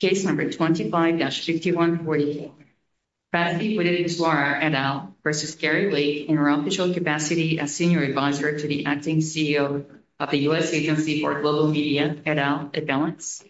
Case No. 25-5144, Batsy Witteswar, et al. v. Gary Lake, in her official capacity as Senior Advisor to the Acting CEO of the U.S. Agency for Global Media, et al., at Balance.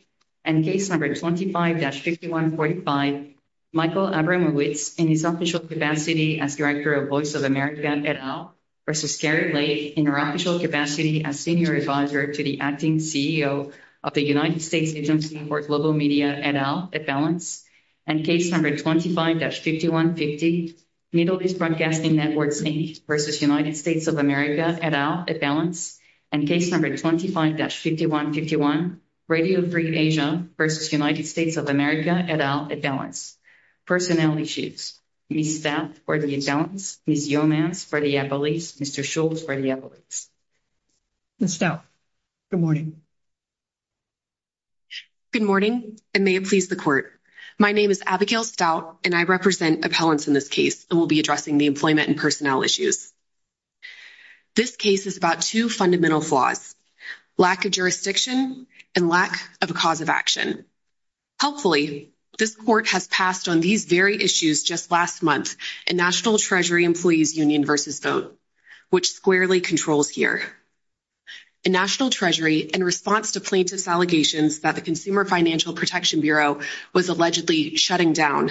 Case No. 25-5145, Michael Abramowitz, in his official capacity as Director of Voice of America, et al. v. Gary Lake, in her official capacity as Senior Advisor to the Acting CEO of the United States Agency for Global Media, et al., at Balance. And Case No. 25-5150, Middle East Broadcasting Networks, maybe, v. United States of America, et al., at Balance. And Case No. 25-5151, Radio Free Asia v. United States of America, et al., at Balance. Personnel issues. We need that for the accountants. We need Yomas for the appellees. Mr. Schultz for the appellees. Ms. Stout, good morning. Good morning, and may it please the Court. My name is Abigail Stout, and I represent appellants in this case, and will be addressing the employment and personnel issues. This case is about two fundamental flaws, lack of jurisdiction and lack of a cause of action. Hopefully, this Court has passed on these very issues just last month in National Treasury Employees Union v. Vote, which squarely controls here. In National Treasury, in response to plaintiff's allegations that the Consumer Financial Protection Bureau was allegedly shutting down,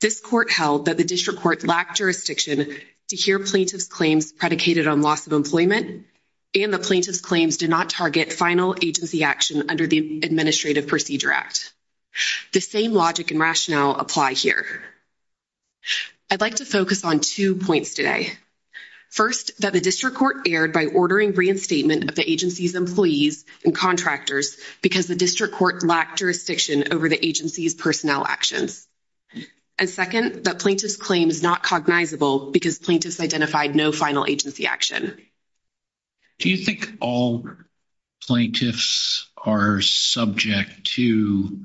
this Court held that the District Court lacked jurisdiction to hear plaintiff's claims predicated on loss of employment, and the plaintiff's claims did not target final agency action under the Administrative Procedure Act. The same logic and rationale apply here. I'd like to focus on two points today. First, that the District Court erred by ordering reinstatement of the agency's employees and contractors because the District Court lacked jurisdiction over the agency's personnel actions. And second, that plaintiff's claim is not cognizable because plaintiffs identified no final agency action. Do you think all plaintiffs are subject to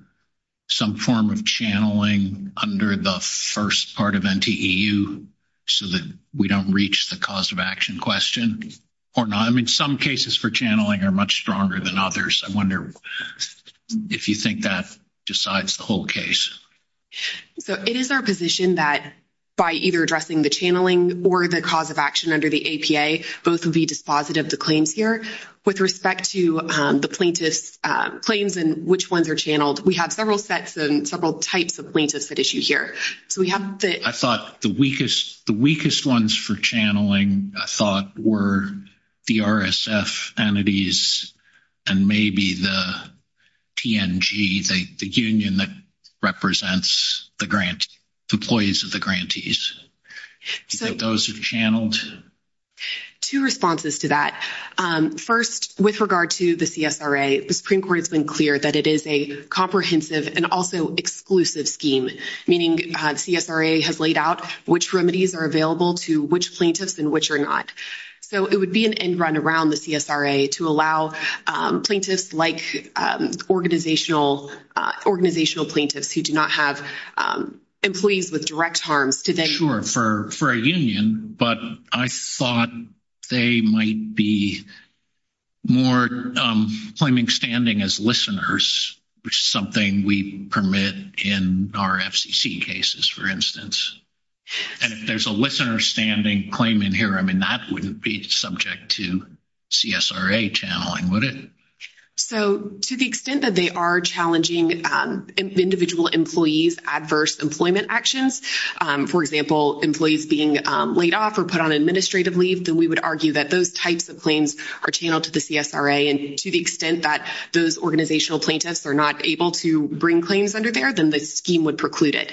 some form of channeling under the first part of NTEU, so that we don't reach the cause of action question, or not? I mean, some cases for channeling are much stronger than others. I wonder if you think that decides the whole case. So it is our position that by either addressing the channeling or the cause of action under the APA, both would be dispositive of the claims here. With respect to the plaintiff's claims and which ones are channeled, we have several sets and several types of plaintiffs at issue here. So we have the... I thought the weakest ones for channeling, I thought, were the RSF entities, and maybe the TNG, the union that represents the employees of the grantees. Do you think those are channeled? Two responses to that. First, with regard to the CSRA, the Supreme Court has been clear that it is a comprehensive and also exclusive scheme, meaning CSRA has laid out which remedies are available to which plaintiffs and which are not. So it would be an end-run around the CSRA to allow plaintiffs like organizational plaintiffs who do not have employees with direct harm to then... Sure, for a union, but I thought they might be more claiming standing as listeners, which is something we permit in our FCC cases, for instance. And if there's a listener standing claim in here, I mean, that wouldn't be subject to CSRA channeling, would it? So to the extent that they are challenging individual employees' adverse employment actions, for example, employees being laid off or put on administrative leave, then we would argue that those types of claims are channeled to the CSRA. And to the extent that those organizational plaintiffs are not able to bring claims under there, then the scheme would preclude it.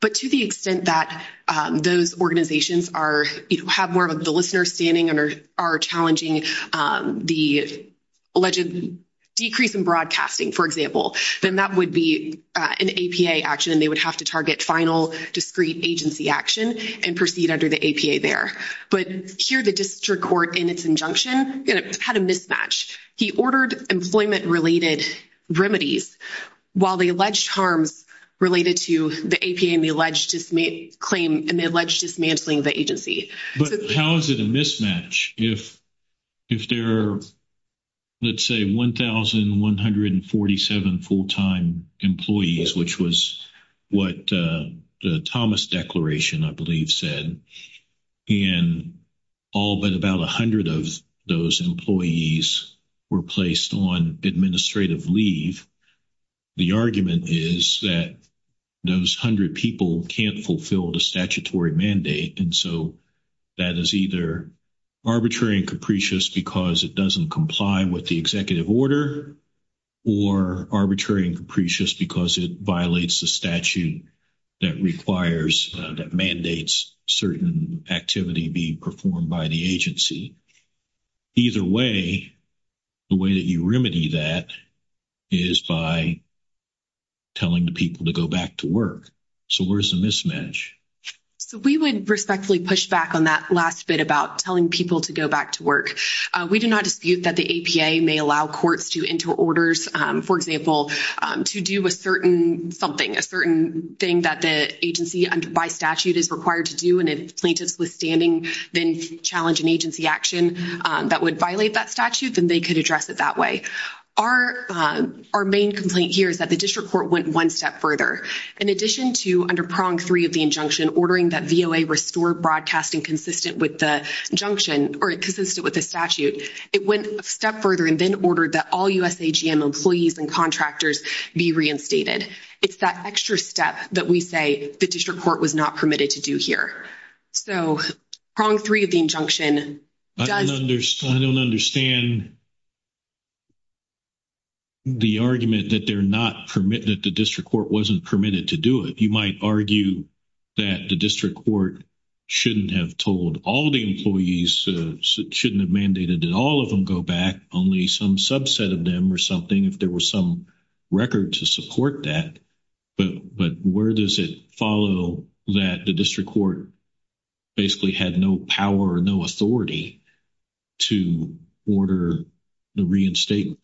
But to the extent that those organizations have more of the listener standing and are challenging the alleged decrease in broadcasting, for example, then that would be an APA action, and they would have to target final discrete agency action and proceed under the APA there. But here the district court, in its injunction, had a mismatch. He ordered employment-related remedies while the alleged harms related to the APA and the alleged claim and the alleged dismantling of the agency. But how is it a mismatch if there are, let's say, 1,147 full-time employees, which was what the Thomas Declaration, I believe, said, and all but about 100 of those employees were placed on administrative leave? The argument is that those 100 people can't fulfill the statutory mandate, and so that is either arbitrary and capricious because it doesn't comply with the executive order or arbitrary and capricious because it violates the statute that requires, that mandates certain activity being performed by the agency. Either way, the way that you remedy that is by telling the people to go back to work. So where is the mismatch? So we would respectfully push back on that last bit about telling people to go back to work. We do not dispute that the APA may allow courts to enter orders, for example, to do a certain something, a certain thing that the agency, by statute, is required to do, and if plaintiffs withstanding then challenge an agency action that would violate that statute, then they could address it that way. Our main complaint here is that the district court went one step further. In addition to, under prong three of the injunction, in ordering that VOA restore broadcasting consistent with the injunction or consistent with the statute, it went a step further and then ordered that all USAGM employees and contractors be reinstated. It's that extra step that we say the district court was not permitted to do here. So prong three of the injunction does... I don't understand the argument that they're not permitted, that the district court wasn't permitted to do it. You might argue that the district court shouldn't have told all the employees, shouldn't have mandated that all of them go back, only some subset of them or something, if there was some record to support that. But where does it follow that the district court basically had no power or no authority to order the reinstatement?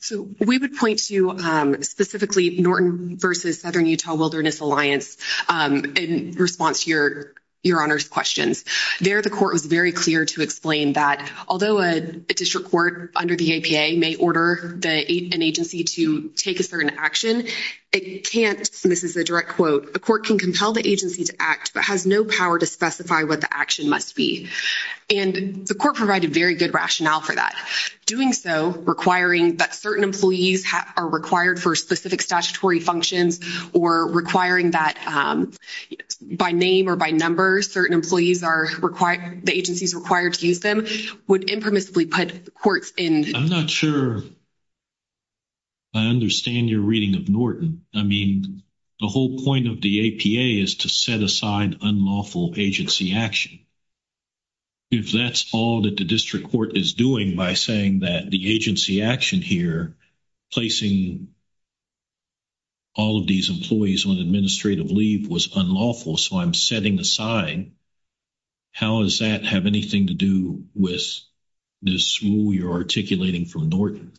So we would point to specifically Norton v. Southern Utah Wilderness Alliance in response to your Honor's question. There the court was very clear to explain that although a district court under the APA may order an agency to take a certain action, it can't, and this is a direct quote, the court can compel the agency to act but has no power to specify what the action must be. And the court provided very good rationale for that. Doing so, requiring that certain employees are required for specific statutory functions or requiring that by name or by number certain employees are required, the agencies required to use them would impermissibly put courts in... I'm not sure I understand your reading of Norton. I mean, the whole point of the APA is to set aside unlawful agency action. If that's all that the district court is doing by saying that the agency action here, placing all of these employees on administrative leave was unlawful, so I'm setting aside, how does that have anything to do with this rule you're articulating from Norton?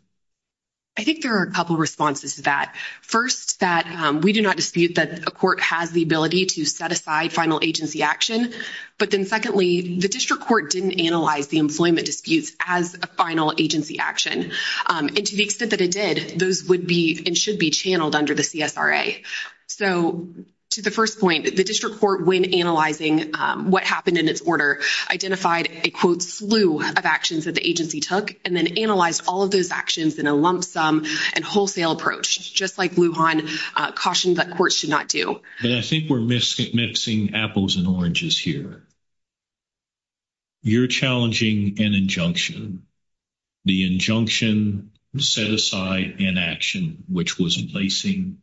I think there are a couple responses to that. First, that we do not dispute that a court has the ability to set aside final agency action, but then secondly, the district court didn't analyze the employment disputes as a final agency action. And to the extent that it did, those would be and should be channeled under the CSRA. So to the first point, the district court, when analyzing what happened in this order, identified a, quote, slew of actions that the agency took and then analyzed all of those actions in a lump sum and wholesale approach, just like Lujan cautioned that courts should not do. And I think we're mixing apples and oranges here. You're challenging an injunction. The injunction set aside an action which was placing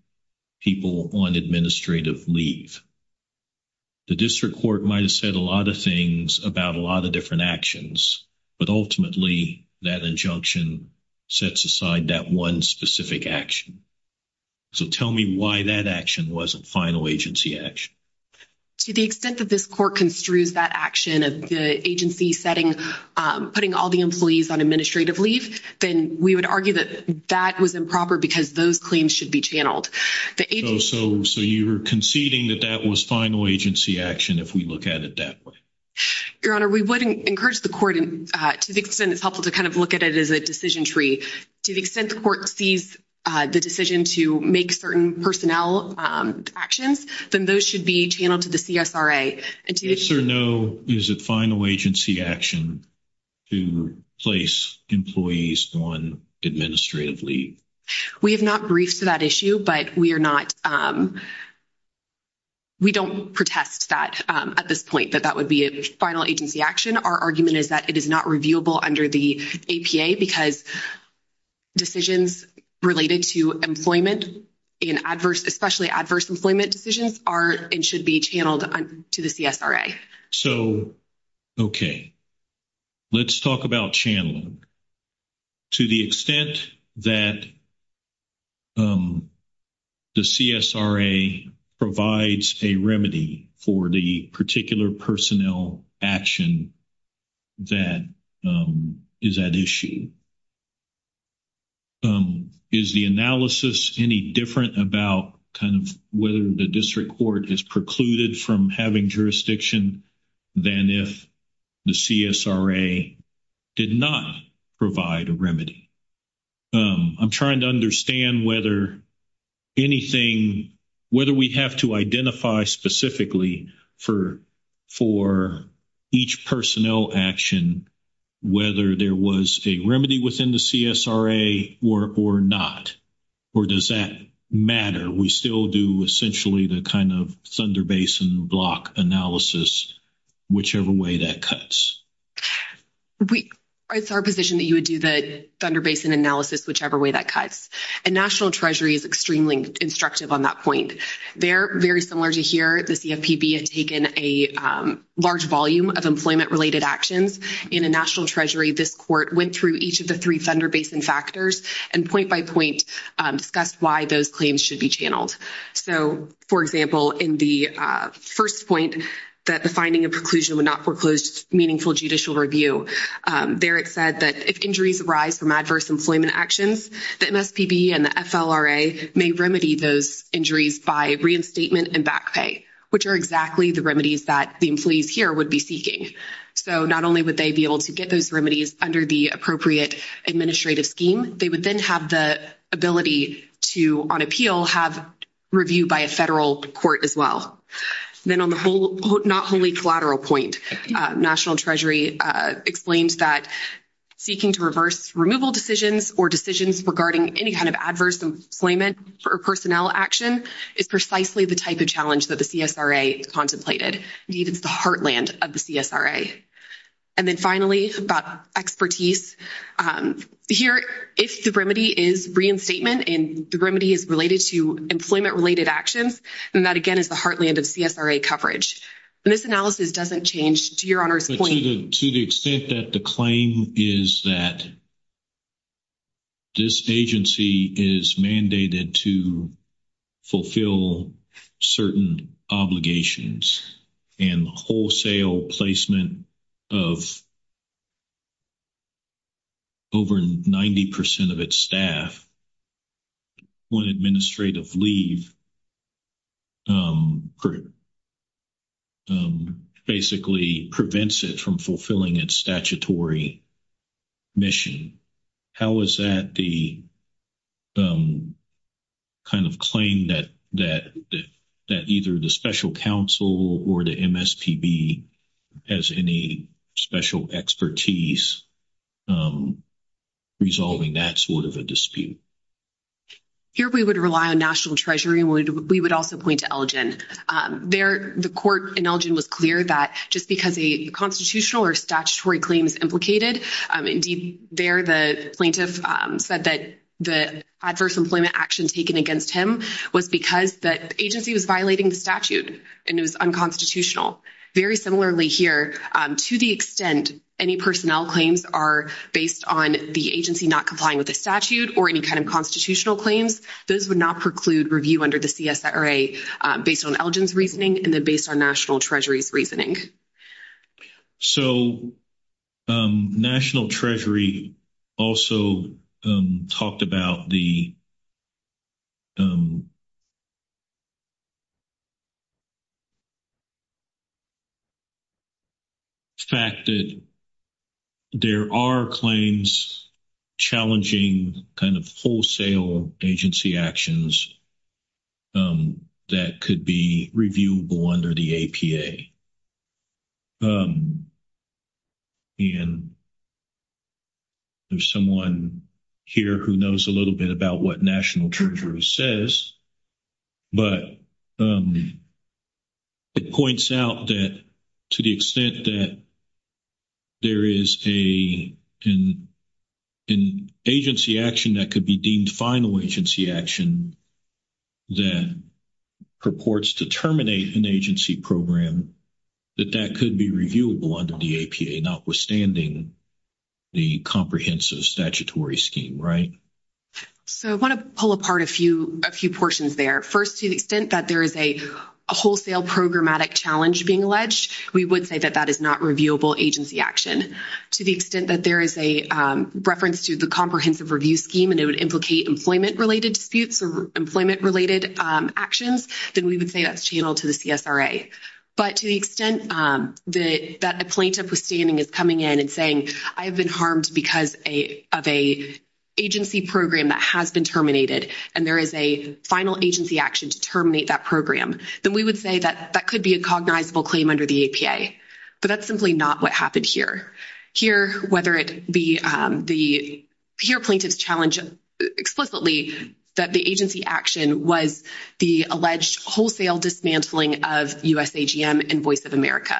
people on administrative leave. The district court might have said a lot of things about a lot of different actions, but ultimately that injunction sets aside that one specific action. So tell me why that action wasn't final agency action. To the extent that this court construed that action of the agency setting, putting all the employees on administrative leave, then we would argue that that was improper because those claims should be channeled. So you're conceding that that was final agency action if we look at it that way? Your Honor, we would encourage the court to the extent it's helpful to kind of look at it as a decision tree. To the extent the court sees the decision to make certain personnel actions, then those should be channeled to the CSRA. So no, is it final agency action to place employees on administrative leave? We have not briefed for that issue, but we are not—we don't protest that at this point, that that would be a final agency action. Our argument is that it is not reviewable under the APA because decisions related to employment and adverse—especially adverse employment decisions are and should be channeled to the CSRA. So, okay. Let's talk about channeling. To the extent that the CSRA provides a remedy for the particular personnel action that is at issue, is the analysis any different about kind of whether the district court has precluded from having jurisdiction than if the CSRA did not provide a remedy? I'm trying to understand whether anything—whether we have to identify specifically for each personnel action whether there was a remedy within the CSRA or not. Or does that matter? We still do essentially the kind of Thunder Basin block analysis, whichever way that cuts. It's our position that you would do the Thunder Basin analysis whichever way that cuts. And National Treasury is extremely instructive on that point. They're very similar to here. The CFPB has taken a large volume of employment-related actions. In the National Treasury, this court went through each of the three Thunder Basin factors and point by point discussed why those claims should be channeled. So, for example, in the first point, that the finding and conclusion would not foreclose meaningful judicial review, there it said that if injuries arise from adverse employment actions, the MSPB and the SLRA may remedy those injuries by reinstatement and back pay, which are exactly the remedies that the employees here would be seeking. So not only would they be able to get those remedies under the appropriate administrative scheme, they would then have the ability to, on appeal, have review by a federal court as well. Then on the not wholly collateral point, National Treasury explains that seeking to reverse removal decisions or decisions regarding any kind of adverse employment or personnel action is precisely the type of challenge that the CSRA contemplated. It is the heartland of the CSRA. And then finally, about expertise. Here, if the remedy is reinstatement and the remedy is related to employment-related actions, then that again is the heartland of CSRA coverage. This analysis doesn't change to Your Honor's point. To the extent that the claim is that this agency is mandated to fulfill certain obligations and wholesale placement of over 90 percent of its staff on administrative leave basically prevents it from fulfilling its statutory mission, how is that the kind of claim that either the special counsel or the MSPB has any special expertise resolving that sort of a dispute? Here we would rely on National Treasury. We would also point to Elgin. There, the court in Elgin was clear that just because a constitutional or statutory claim is implicated, indeed there the plaintiff said that the adverse employment action taken against him was because the agency was violating the statute and it was unconstitutional. Very similarly here, to the extent any personnel claims are based on the agency not complying with the statute or any kind of constitutional claims, those would not preclude review under the CSRA based on Elgin's reasoning and then based on National Treasury's reasoning. So National Treasury also talked about the fact that there are claims challenging kind of wholesale agency actions that could be reviewable under the APA. And there's someone here who knows a little bit about what National Treasury says, but it points out that to the extent that there is an agency action that could be deemed final agency action that purports to terminate an agency program, that that could be reviewable under the APA, notwithstanding the comprehensive statutory scheme, right? So I want to pull apart a few portions there. First, to the extent that there is a wholesale programmatic challenge being alleged, we would say that that is not reviewable agency action. To the extent that there is a reference to the comprehensive review scheme and it would implicate employment-related disputes or employment-related actions, then we would say that's channeled to the CSRA. But to the extent that a plaintiff is coming in and saying, I've been harmed because of an agency program that has been terminated and there is a final agency action to terminate that program, then we would say that that could be a cognizable claim under the APA. But that's simply not what happened here. Here, whether it be the—here plaintiffs challenge explicitly that the agency action was the alleged wholesale dismantling of USAGM Invoice of America.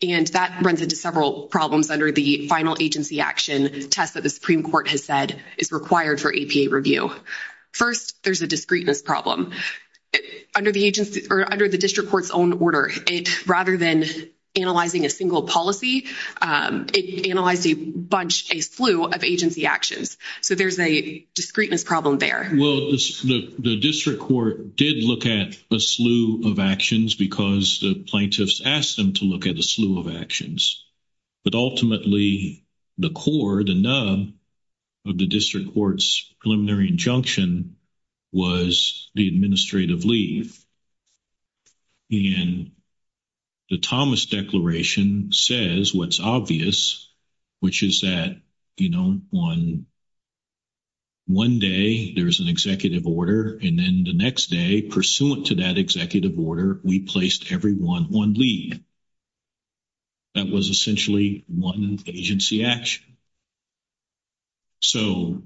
And that runs into several problems under the final agency action test that the Supreme Court has said is required for APA review. First, there's a discreteness problem. Under the agency—or under the district court's own order, rather than analyzing a single policy, it analyzed a bunch, a slew of agency actions. So there's a discreteness problem there. Well, the district court did look at a slew of actions because the plaintiffs asked them to look at a slew of actions. But ultimately, the core, the nub of the district court's preliminary injunction was the administrative leave. And the Thomas Declaration says what's obvious, which is that, you know, on one day, there's an executive order. And then the next day, pursuant to that executive order, we placed everyone on leave. That was essentially one agency action. So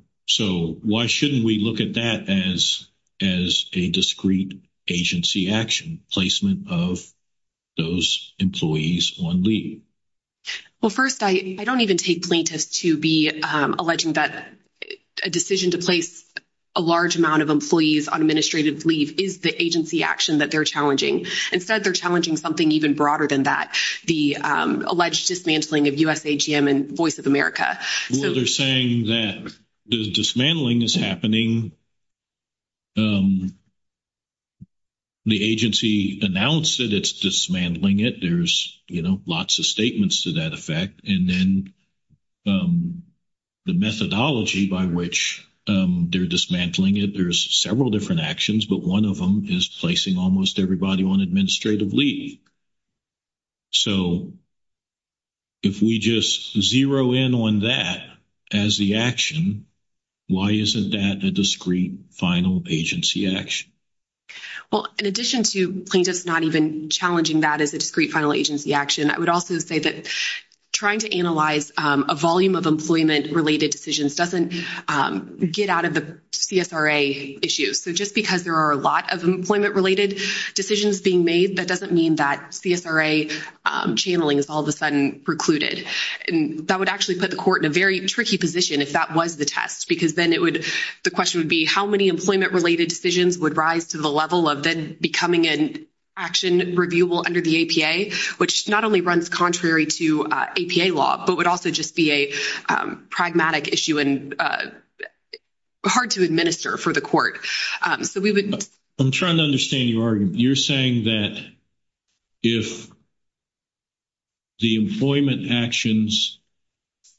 why shouldn't we look at that as a discrete agency action, placement of those employees on leave? Well, first, I don't even take plaintiffs to be alleging that a decision to place a large amount of employees on administrative leave is the agency action that they're challenging. Instead, they're challenging something even broader than that, the alleged dismantling of USAGM and Voice of America. Well, they're saying that the dismantling is happening. The agency announced that it's dismantling it. There's, you know, lots of statements to that effect. And then the methodology by which they're dismantling it, there's several different actions, but one of them is placing almost everybody on administrative leave. So if we just zero in on that as the action, why isn't that a discrete final agency action? Well, in addition to plaintiffs not even challenging that as a discrete final agency action, I would also say that trying to analyze a volume of employment-related decisions doesn't get out of the CSRA issue. So just because there are a lot of employment-related decisions being made, that doesn't mean that CSRA channeling is all of a sudden precluded. And that would actually put the court in a very tricky position if that was the test, because then the question would be how many employment-related decisions would rise to the level of then becoming an action reviewable under the APA, which not only runs contrary to APA law, but would also just be a pragmatic issue and hard to administer for the court. I'm trying to understand you, Arden. You're saying that if the employment actions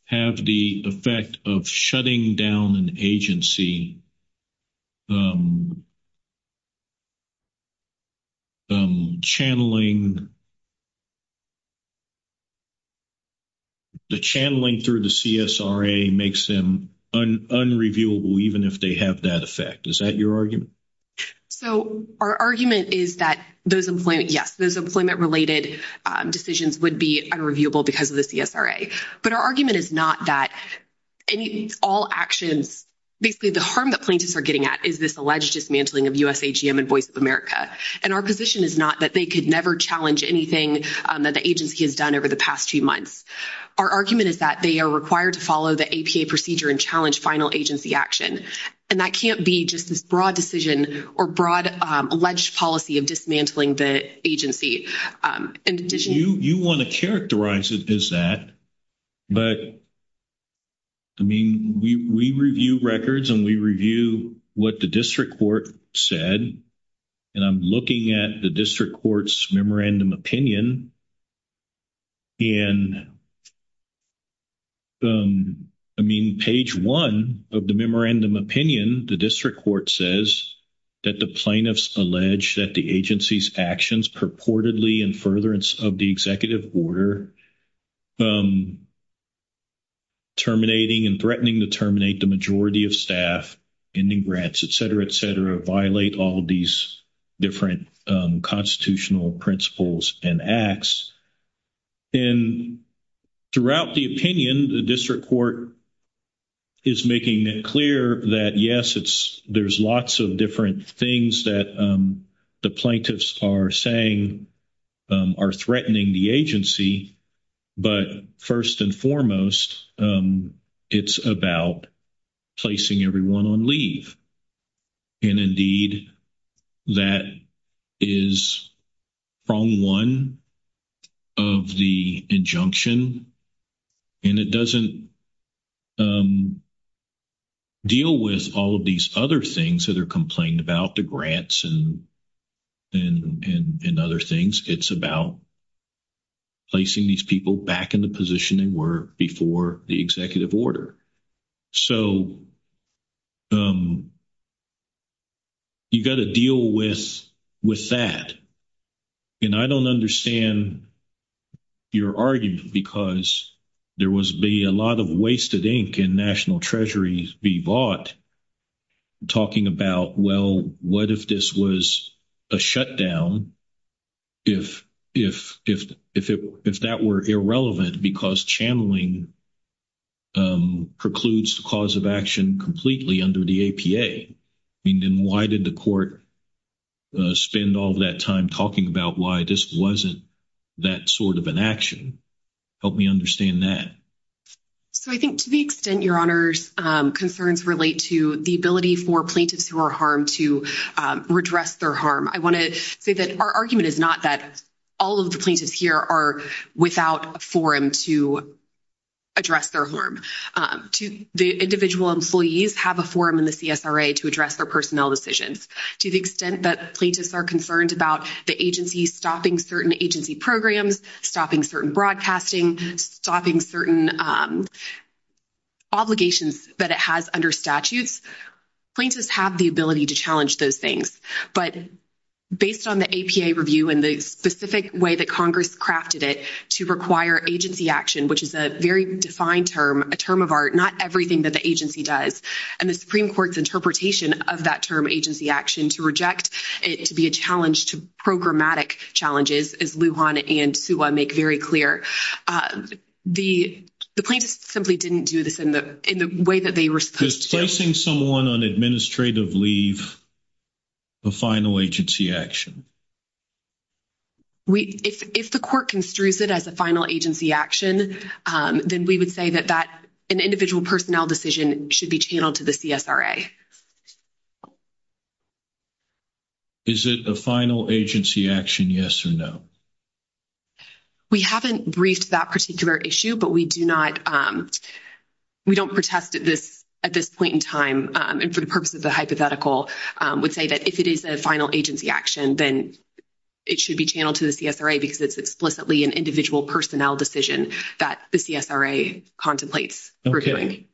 have the effect of shutting down an agency, channeling through the CSRA makes them unreviewable, even if they have that effect. Is that your argument? So our argument is that those employment-related decisions would be unreviewable because of the CSRA. But our argument is not that all actions, basically the harm that plaintiffs are getting at is this alleged dismantling of USAGM and Voice of America. And our position is not that they could never challenge anything that the agency has done over the past few months. Our argument is that they are required to follow the APA procedure and challenge final agency action. And that can't be just this broad decision or broad alleged policy of dismantling the agency. You want to characterize it as that. But, I mean, we review records and we review what the district court said. And I'm looking at the district court's memorandum opinion. And, I mean, page one of the memorandum opinion, the district court says that the plaintiffs allege that the agency's actions purportedly in furtherance of the executive order terminating and threatening to terminate the majority of staff, ending grants, et cetera, et cetera, violate all of these different constitutional principles and acts. And throughout the opinion, the district court is making it clear that, yes, there's lots of different things that the plaintiffs are saying are threatening the agency, but first and foremost, it's about placing everyone on leave. And, indeed, that is prong one of the injunction. And it doesn't deal with all of these other things that are complained about, the grants and other things. It's about placing these people back in the position they were before the executive order. So you've got to deal with that. And I don't understand your argument because there was a lot of wasted ink in national treasuries be bought talking about, well, what if this was a shutdown, if that were irrelevant because channeling precludes the cause of action completely under the APA. And then why did the court spend all that time talking about why this wasn't that sort of an action? Help me understand that. So I think to the extent your Honor's concerns relate to the ability for plaintiffs who are harmed to redress their harm, I want to say that our argument is not that all of the plaintiffs here are without a forum to address their harm. The individual employees have a forum in the CSRA to address their personnel decisions. To the extent that plaintiffs are concerned about the agency stopping certain agency programs, stopping certain broadcasting, stopping certain obligations that it has under statutes, plaintiffs have the ability to challenge those things. But based on the APA review and the specific way that Congress crafted it to require agency action, which is a very defined term, a term of art, not everything that the agency does, and the Supreme Court's interpretation of that term, agency action, to reject, it would be a challenge to programmatic challenges, as Lujan and Suha make very clear. The plaintiffs simply didn't do this in the way that they were supposed to. Is placing someone on administrative leave a final agency action? If the court construes it as a final agency action, then we would say that that individual personnel decision should be channeled to the CSRA. Is it a final agency action, yes or no? We haven't briefed that particular issue, but we do not-we don't protest at this point in time, and for the purpose of the hypothetical, would say that if it is a final agency action, then it should be channeled to the CSRA because it's explicitly an individual personnel decision that the CSRA contemplates reviewing. Okay,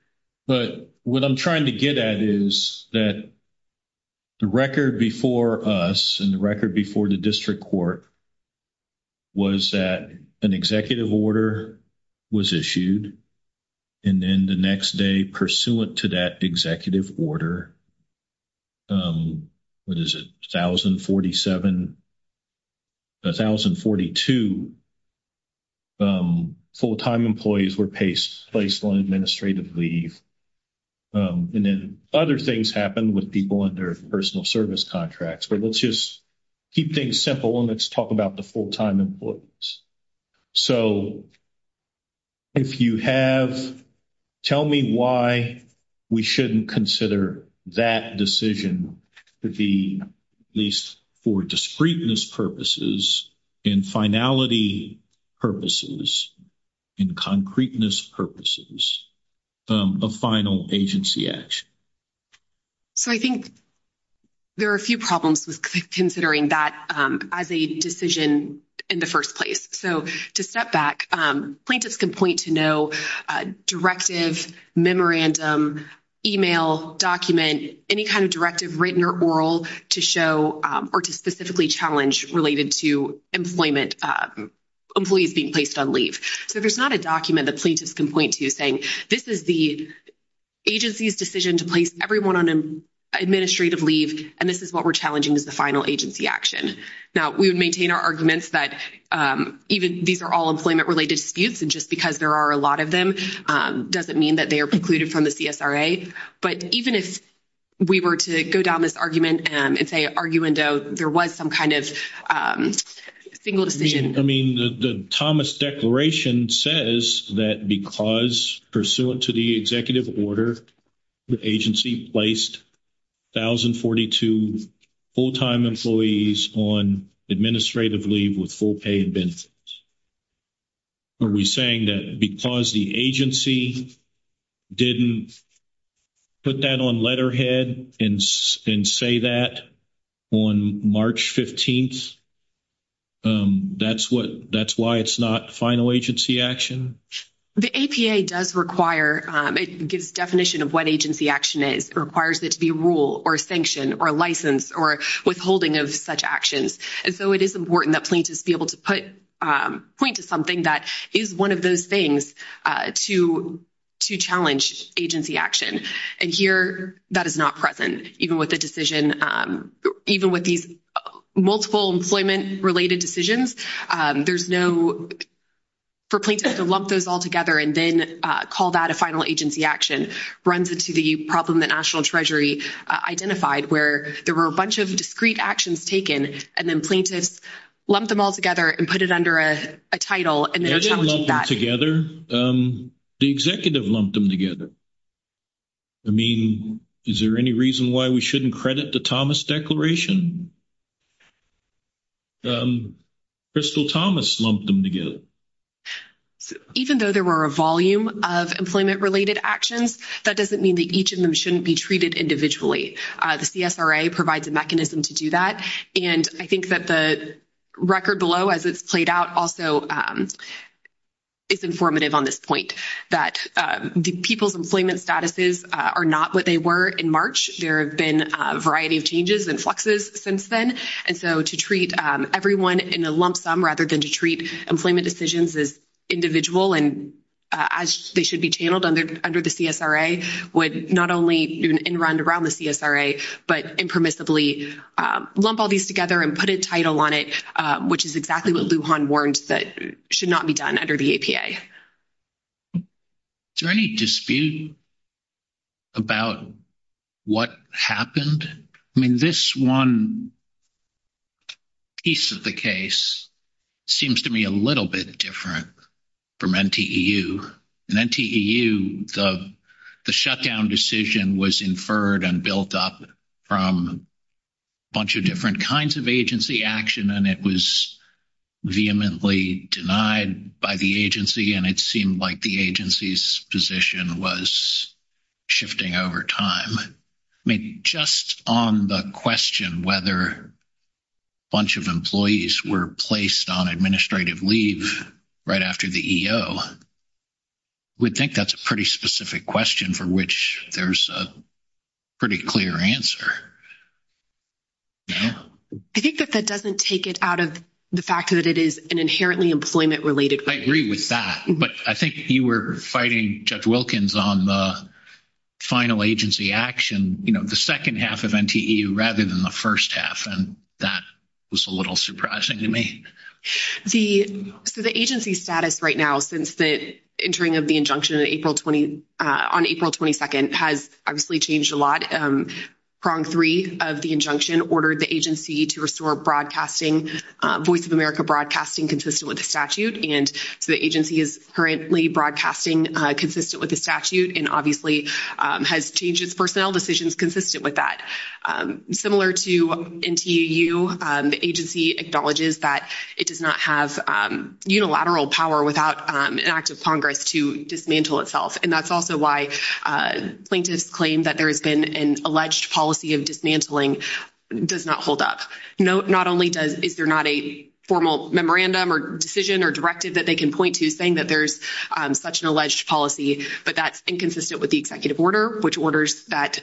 but what I'm trying to get at is that the record before us and the record before the district court was that an executive order was issued, and then the next day, pursuant to that executive order, what is it, 1047-1042, full-time employees were placed on administrative leave, and then other things happened with people under personal service contracts, but let's just keep things simple and let's talk about the full-time employees. So, if you have-tell me why we shouldn't consider that decision to be, at least for discreteness purposes, in finality purposes, in concreteness purposes, a final agency action. So, I think there are a few problems with considering that as a decision in the first place. So, to step back, plaintiffs can point to no directive, memorandum, email, document, any kind of directive, written or oral, to show or to specifically challenge related to employment-employees being placed on leave. So, there's not a document that plaintiffs can point to saying, this is the agency's decision to place everyone on administrative leave, and this is what we're challenging as a final agency action. Now, we would maintain our arguments that even these are all employment-related disputes, and just because there are a lot of them doesn't mean that they are precluded from the CSRA, but even if we were to go down this argument and say arguendo, there was some kind of single decision. I mean, the Thomas Declaration says that because, pursuant to the executive order, the agency placed 1,042 full-time employees on administrative leave with full pay and benefits. Are we saying that because the agency didn't put that on letterhead and say that on March 15th, that's what, that's why it's not final agency action? The APA does require, it gives definition of what agency action is, requires it to be a rule or a sanction or a license or withholding of such actions. And so, it is important that plaintiffs be able to put, point to something that is one of those things to challenge agency action. And here, that is not present, even with the decision, even with these multiple employment-related decisions. There's no, for plaintiffs to lump those all together and then call that a final agency action runs into the problem that National Treasury identified where there were a bunch of discrete actions taken and then plaintiffs lumped them all together and put it under a title and then challenged that. They didn't lump them together. The executive lumped them together. I mean, is there any reason why we shouldn't credit the Thomas Declaration? Crystal Thomas lumped them together. Even though there were a volume of employment-related actions, that doesn't mean that each of them shouldn't be treated individually. The CFRA provides a mechanism to do that. And I think that the record below, as it's played out, also is informative on this point, that the people's employment statuses are not what they were in March. There have been a variety of changes and fluxes since then. And so to treat everyone in a lump sum rather than to treat employment decisions as individual and as they should be channeled under the CFRA would not only in round-to-round the CFRA, but impermissibly lump all these together and put a title on it, which is exactly what Lujan warned that should not be done under the APA. Is there any dispute about what happened? I mean, this one piece of the case seems to me a little bit different from NTEU. In NTEU, the shutdown decision was inferred and built up from a bunch of different kinds of agency action, and it was vehemently denied by the agency. And it seemed like the agency's position was shifting over time. I mean, just on the question whether a bunch of employees were placed on administrative leave right after the EO, we think that's a pretty specific question for which there's a pretty clear answer. I think that that doesn't take it out of the fact that it is an inherently employment-related question. I agree with that. But I think you were fighting, Judge Wilkins, on the final agency action, you know, the second half of NTEU rather than the first half. And that was a little surprising to me. So the agency status right now since the entering of the injunction on April 22nd has obviously changed a lot. Prong 3 of the injunction ordered the agency to restore broadcasting, Voice of America broadcasting consistent with the statute. And so the agency is currently broadcasting consistent with the statute and obviously has changed its personnel decisions consistent with that. Similar to NTEU, the agency acknowledges that it does not have unilateral power without an act of Congress to dismantle itself. And that's also why plaintiffs claim that there has been an alleged policy of dismantling does not hold up. Not only is there not a formal memorandum or decision or directive that they can point to saying that there's such an alleged policy, but that's inconsistent with the executive order, which orders that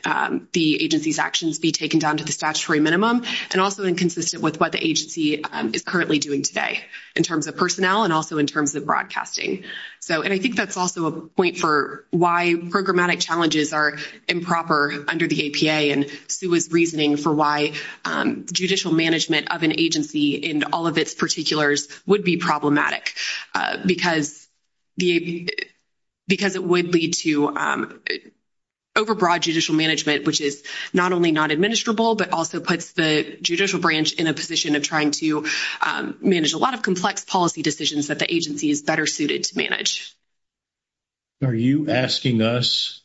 the agency's actions be taken down to the statutory minimum and also inconsistent with what the agency is currently doing today in terms of personnel and also in terms of broadcasting. And I think that's also a point for why programmatic challenges are improper under the APA. And Sue is reasoning for why judicial management of an agency and all of its particulars would be problematic, because it would lead to overbroad judicial management, which is not only not administrable, but also puts the judicial branch in a position of trying to manage a lot of complex policy decisions that the agency is better suited to manage. Are you asking us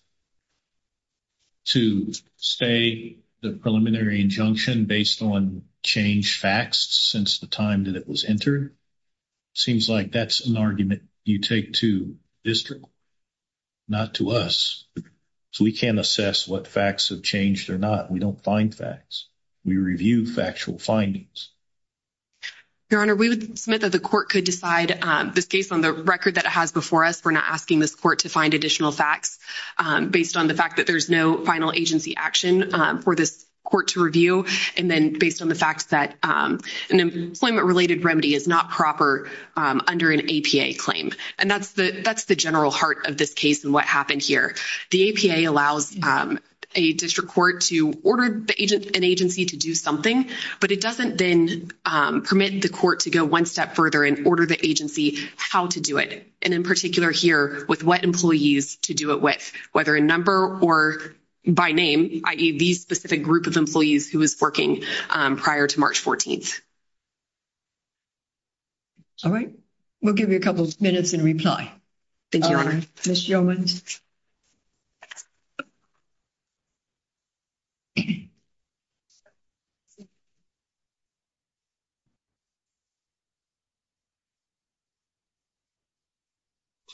to say the preliminary injunction based on changed facts since the time that it was entered? It seems like that's an argument you take to district, not to us. So we can't assess what facts have changed or not. We don't find facts. We review factual findings. Your Honor, we would submit that the court could decide this case on the record that it has before us. We're not asking this court to find additional facts based on the fact that there's no final agency action for this court to review, and then based on the fact that an employment-related remedy is not proper under an APA claim. And that's the general heart of this case and what happened here. The APA allows a district court to order an agency to do something, but it doesn't then permit the court to go one step further and order the agency how to do it. And in particular here, with what employees to do it with, whether a number or by name, i.e., the specific group of employees who was working prior to March 14th. All right. We'll give you a couple of minutes in reply. Thank you, Your Honor. Ms. Yeomans. Good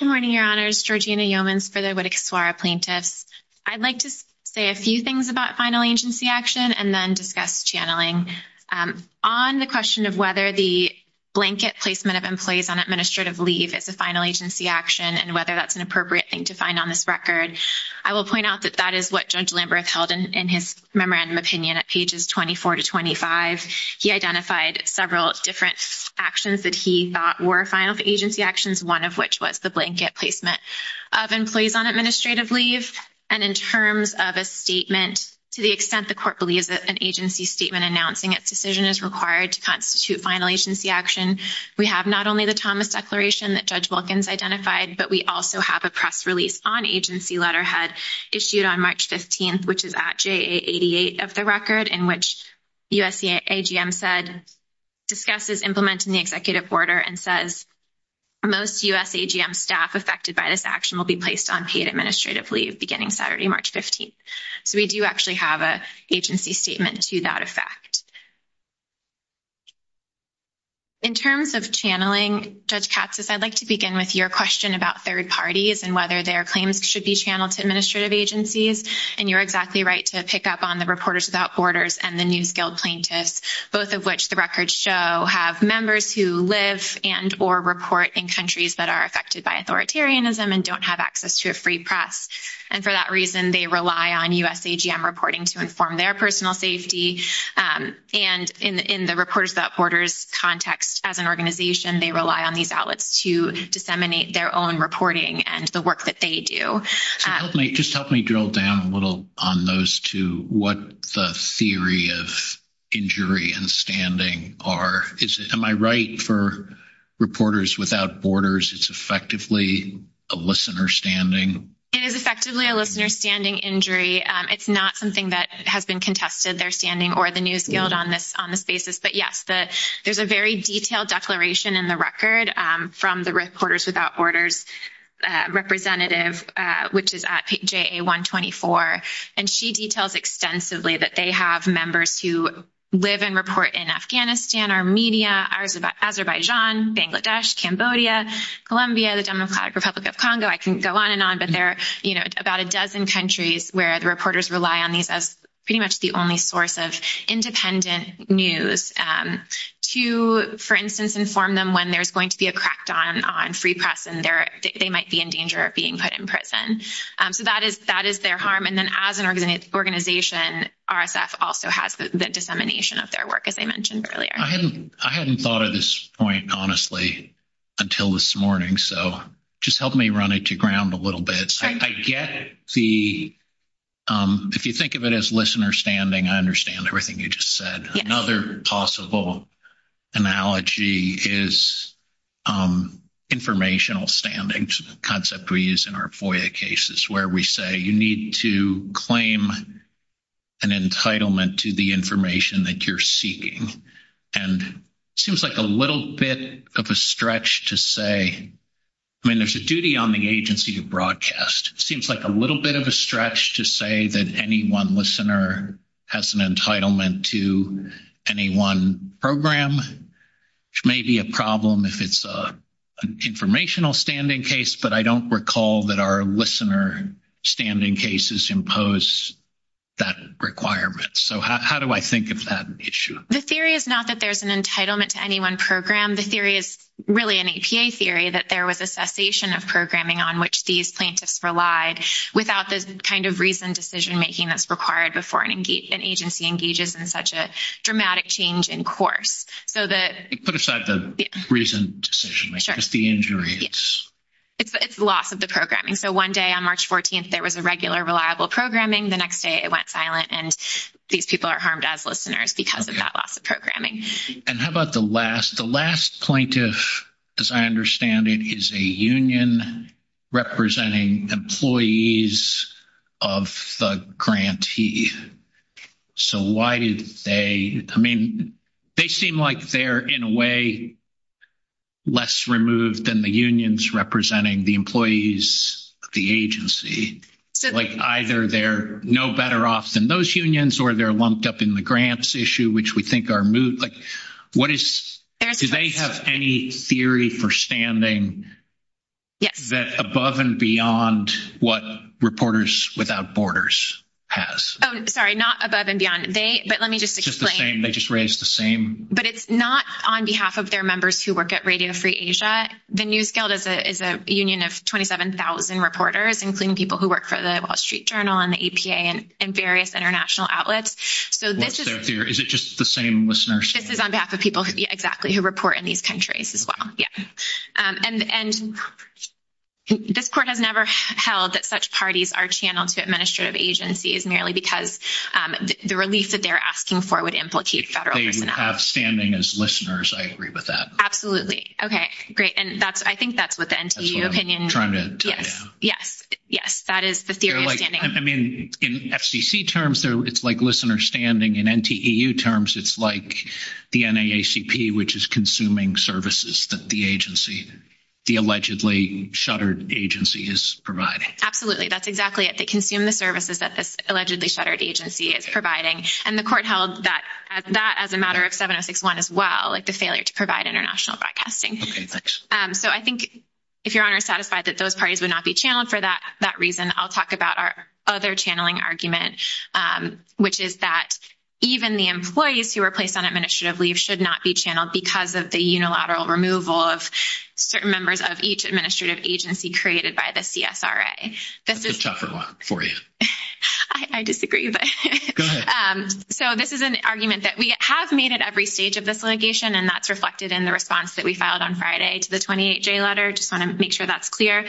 morning, Your Honors. Georgina Yeomans for the Whittaker-Swara Plaintiffs. I'd like to say a few things about final agency action and then discuss channeling. On the question of whether the blanket placement of employees on administrative leave is a final agency action and whether that's an appropriate thing to find on this record, I will point out that that is what Judge Lamberth held in his memorandum opinion at pages 24 to 25. He identified several different actions that he thought were final agency actions, one of which was the blanket placement of employees on administrative leave. And in terms of a statement, to the extent the court believes that an agency statement announcing its decision is required to constitute final agency action, we have not only the Thomas Declaration that Judge Wilkins identified, but we also have a press release on agency letterhead issued on March 15th, which is at JA88 of the record, in which USAGM said discusses implementing the executive order and says, most USAGM staff affected by this action will be placed on paid administrative leave beginning Saturday, March 15th. So we do actually have an agency statement to that effect. In terms of channeling, Judge Katsas, I'd like to begin with your question about third parties and whether their claims should be channeled to administrative agencies. And you're exactly right to pick up on the Reporters Without Borders and the New Skilled Plaintiffs, both of which the records show have members who live and or report in countries that are affected by authoritarianism and don't have access to a free press. And for that reason, they rely on USAGM reporting to inform their personal safety. And in the Reporters Without Borders context as an organization, they rely on these outlets to disseminate their own reporting and the work that they do. Just help me drill down a little on those two, what the theory of injury and standing are. Am I right for Reporters Without Borders, it's effectively a listener standing? It is effectively a listener standing injury. It's not something that has been contested, their standing or the New Skilled on this basis. But yes, there's a very detailed declaration in the record from the Reporters Without Borders representative, which is at JA124. And she details extensively that they have members who live and report in Afghanistan, Armenia, Azerbaijan, Bangladesh, Cambodia, Colombia, the Democratic Republic of Congo. I can go on and on, but there are about a dozen countries where the Reporters Without Borders is the only source of independent news to, for instance, inform them when there's going to be a crackdown on free press and they might be in danger of being put in prison. So that is their harm. And then as an organization, RSF also has the dissemination of their work, as I mentioned earlier. I hadn't thought of this point, honestly, until this morning. So just help me run it to ground a little bit. I get the, if you think of it as listener standing, I understand everything you just said. Another possible analogy is informational standing, the concept we use in our FOIA cases, where we say you need to claim an entitlement to the information that you're seeking. And it seems like a little bit of a stretch to say, I mean, there's a duty on the agency to broadcast. It seems like a little bit of a stretch to say that any one listener has an entitlement to any one program. It may be a problem if it's an informational standing case, but I don't recall that our listener standing cases impose that requirement. So how do I think of that issue? The theory is not that there's an entitlement to any one program. The theory is really an APA theory, that there was a cessation of programming on which these plaintiffs relied without the kind of reasoned decision-making that's required before an agency engages in such a dramatic change in course. Put aside the reasoned decision. It's the injury. It's loss of the programming. So one day on March 14th, there was a regular reliable programming. The next day it went silent and these people are harmed as listeners because of that loss of programming. And how about the last? The last plaintiff, as I understand it, is a union representing employees of the grantee. So why did they, I mean, they seem like they're in a way less removed than the unions representing the employees of the agency. Like either they're no better off than those unions or they're lumped up in the grants issue, which we think are moot. Do they have any theory for standing that above and beyond what Reporters Without Borders has? Sorry, not above and beyond. They just raised the same. But it's not on behalf of their members who work at Radio Free Asia. The News Guild is a union of 27,000 reporters, including people who work for the Wall Street Journal and the APA and various international outlets. Is it just the same listeners? This is on behalf of people who, exactly, who report in these countries as well. And this court has never held that such parties are channeled to administrative agencies merely because the relief that they're asking for would implicate federal. They would have standing as listeners. I agree with that. Absolutely. Okay, great. And I think that's what the NCEU opinion. That's what I'm trying to tell you. Yes. Yes. That is the theory of standing. I mean, in FCC terms, it's like listener standing. In NCEU terms, it's like the NAACP, which is consuming services that the agency, the allegedly shuttered agency, is providing. Absolutely. That's exactly it. They consume the services that this allegedly shuttered agency is providing. And the court held that as a matter of 706.1 as well, like the failure to provide international broadcasting. Okay, thanks. So I think, if Your Honor is satisfied, that those parties would not be channeled for that reason, I'll talk about our other channeling argument, which is that even the employees who are placed on administrative leave should not be channeled because of the unilateral removal of certain members of each administrative agency created by the CSRA. That's a tougher one for you. I disagree. Go ahead. So this is an argument that we have made at every stage of this litigation, and that's reflected in the response that we filed on Friday to the 28J letter. I just want to make sure that's clear.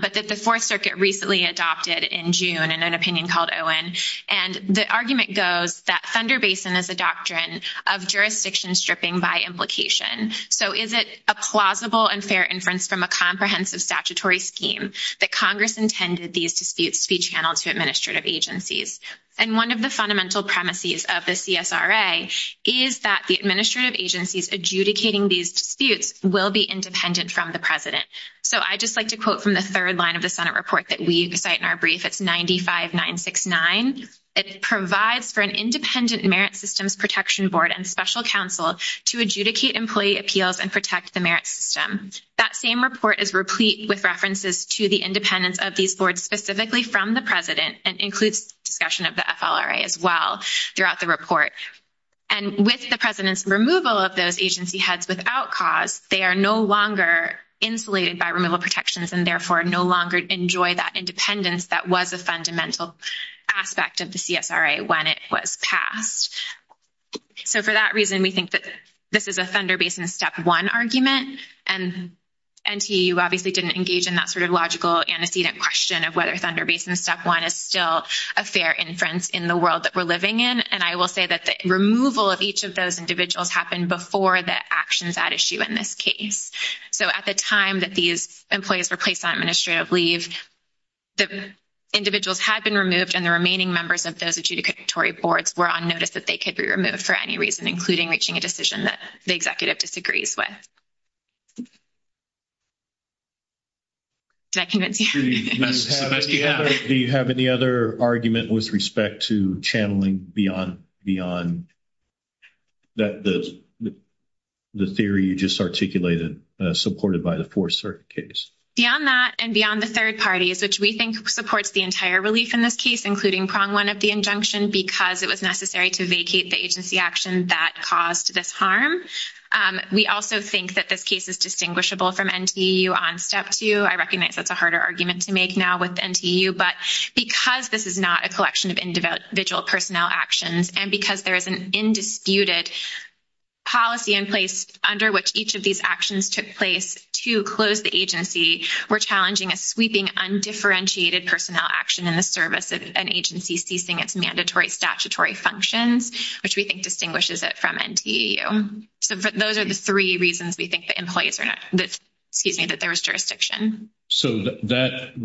But that the Fourth Circuit recently adopted in June, in an opinion called Owen, and the argument goes that Thunder Basin is a doctrine of jurisdiction stripping by implication. So is it a plausible and fair inference from a comprehensive statutory scheme that Congress intended these disputes to be channeled to administrative agencies? And one of the fundamental premises of the CSRA is that the administrative agencies adjudicating these disputes will be independent from the President. So I'd just like to quote from the third line of the Senate report that we cite in our brief. It's 95-969. It provides for an independent Merit Systems Protection Board and special counsel to adjudicate employee appeals and protect the merit system. That same report is replete with references to the independence of these boards specifically from the President, and includes discussion of the FLRA as well throughout the report. And with the President's removal of those agency heads without cause, they are no longer insulated by removal protections, and therefore no longer enjoy that independence that was a fundamental aspect of the CSRA when it was passed. So for that reason, we think that this is a Thunder Basin Step 1 argument, and NTU obviously didn't engage in that sort of logical antecedent question of whether Thunder Basin Step 1 is still a fair inference in the world that we're living in. And I will say that the removal of each of those individuals happened before the actions at issue in this case. So at the time that these employees were placed on administrative leave, the individuals had been removed, and the remaining members of those adjudicatory boards were on notice that they could be removed for any reason, including reaching a decision that the executive disagrees with. Does that convince you? Do you have any other argument with respect to channeling beyond the theory you just articulated supported by the Fourth Circuit case? Beyond that and beyond the third parties, which we think supports the entire relief in this case, including Prong 1 of the injunction, because it was necessary to vacate the agency actions that caused this harm. We also think that this case is distinguishable from NTU on Step 2. I recognize that's a harder argument to make now with NTU, but because this is not a collection of individual personnel actions and because there is an indisputed policy in place under which each of these actions took place to close the agency, we're challenging a sweeping undifferentiated personnel action in the service of an agency ceasing its mandatory statutory functions, which we think distinguishes it from NTU. Those are the three reasons we think that there is jurisdiction. So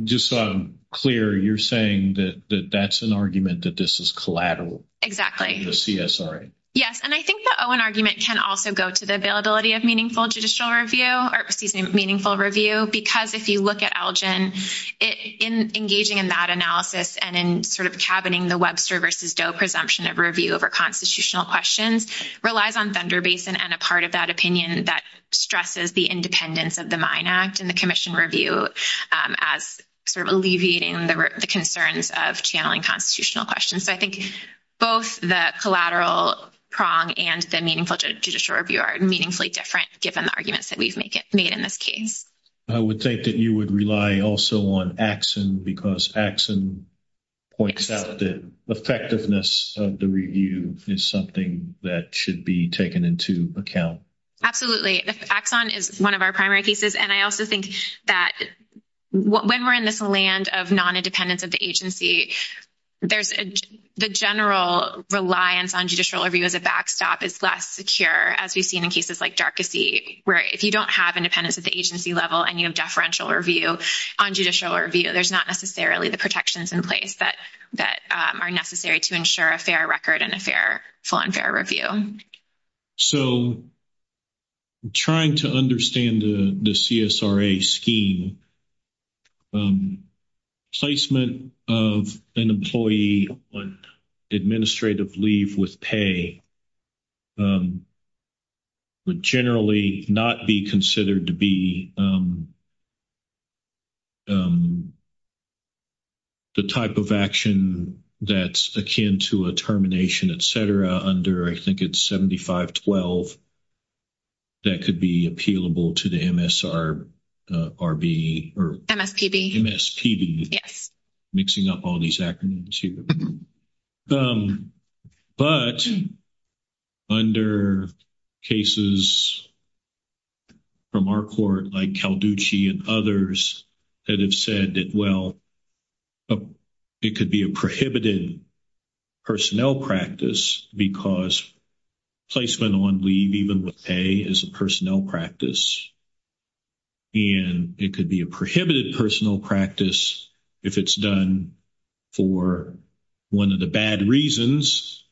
just so I'm clear, you're saying that that's an argument that this is collateral? Exactly. The CSRA. Yes. And I think the Owen argument can also go to the availability of meaningful judicial review, or excuse me, meaningful review, because if you look at Elgin, engaging in that analysis and in sort of cabining the Webster versus Doe presumption of review over constitutional questions, relies on fender basin and a part of that opinion that stresses the independence of the mine act and the commission review as sort of alleviating the concerns of channeling constitutional questions. But I think both the collateral prong and the meaningful judicial review are meaningfully different given the arguments that we've made in this case. I would think that you would rely also on action because action points out that effectiveness of the review is something that should be taken into account. Absolutely. Axon is one of our primary cases. And I also think that when we're in this land of non-independence of the there's the general reliance on judicial review as a backstop is less secure as we've seen in cases like dark to see where if you don't have independence at the agency level and you have deferential review on judicial review, there's not necessarily the protections in place that are necessary to ensure a fair record and a fair full and fair review. So I'm trying to understand the CSRA scheme. Placement of an employee on administrative leave with pay would be the type of action that's akin to a termination, et cetera, under I think it's 7512. That could be appealable to the MSRB or MSPB mixing up all these acronyms here. But under cases from our court like Calducci and others that have said that, well, it could be a prohibited personnel practice because placement on leave even with pay is a personnel practice. And it could be a prohibited personnel practice if it's done for one of the bad reasons.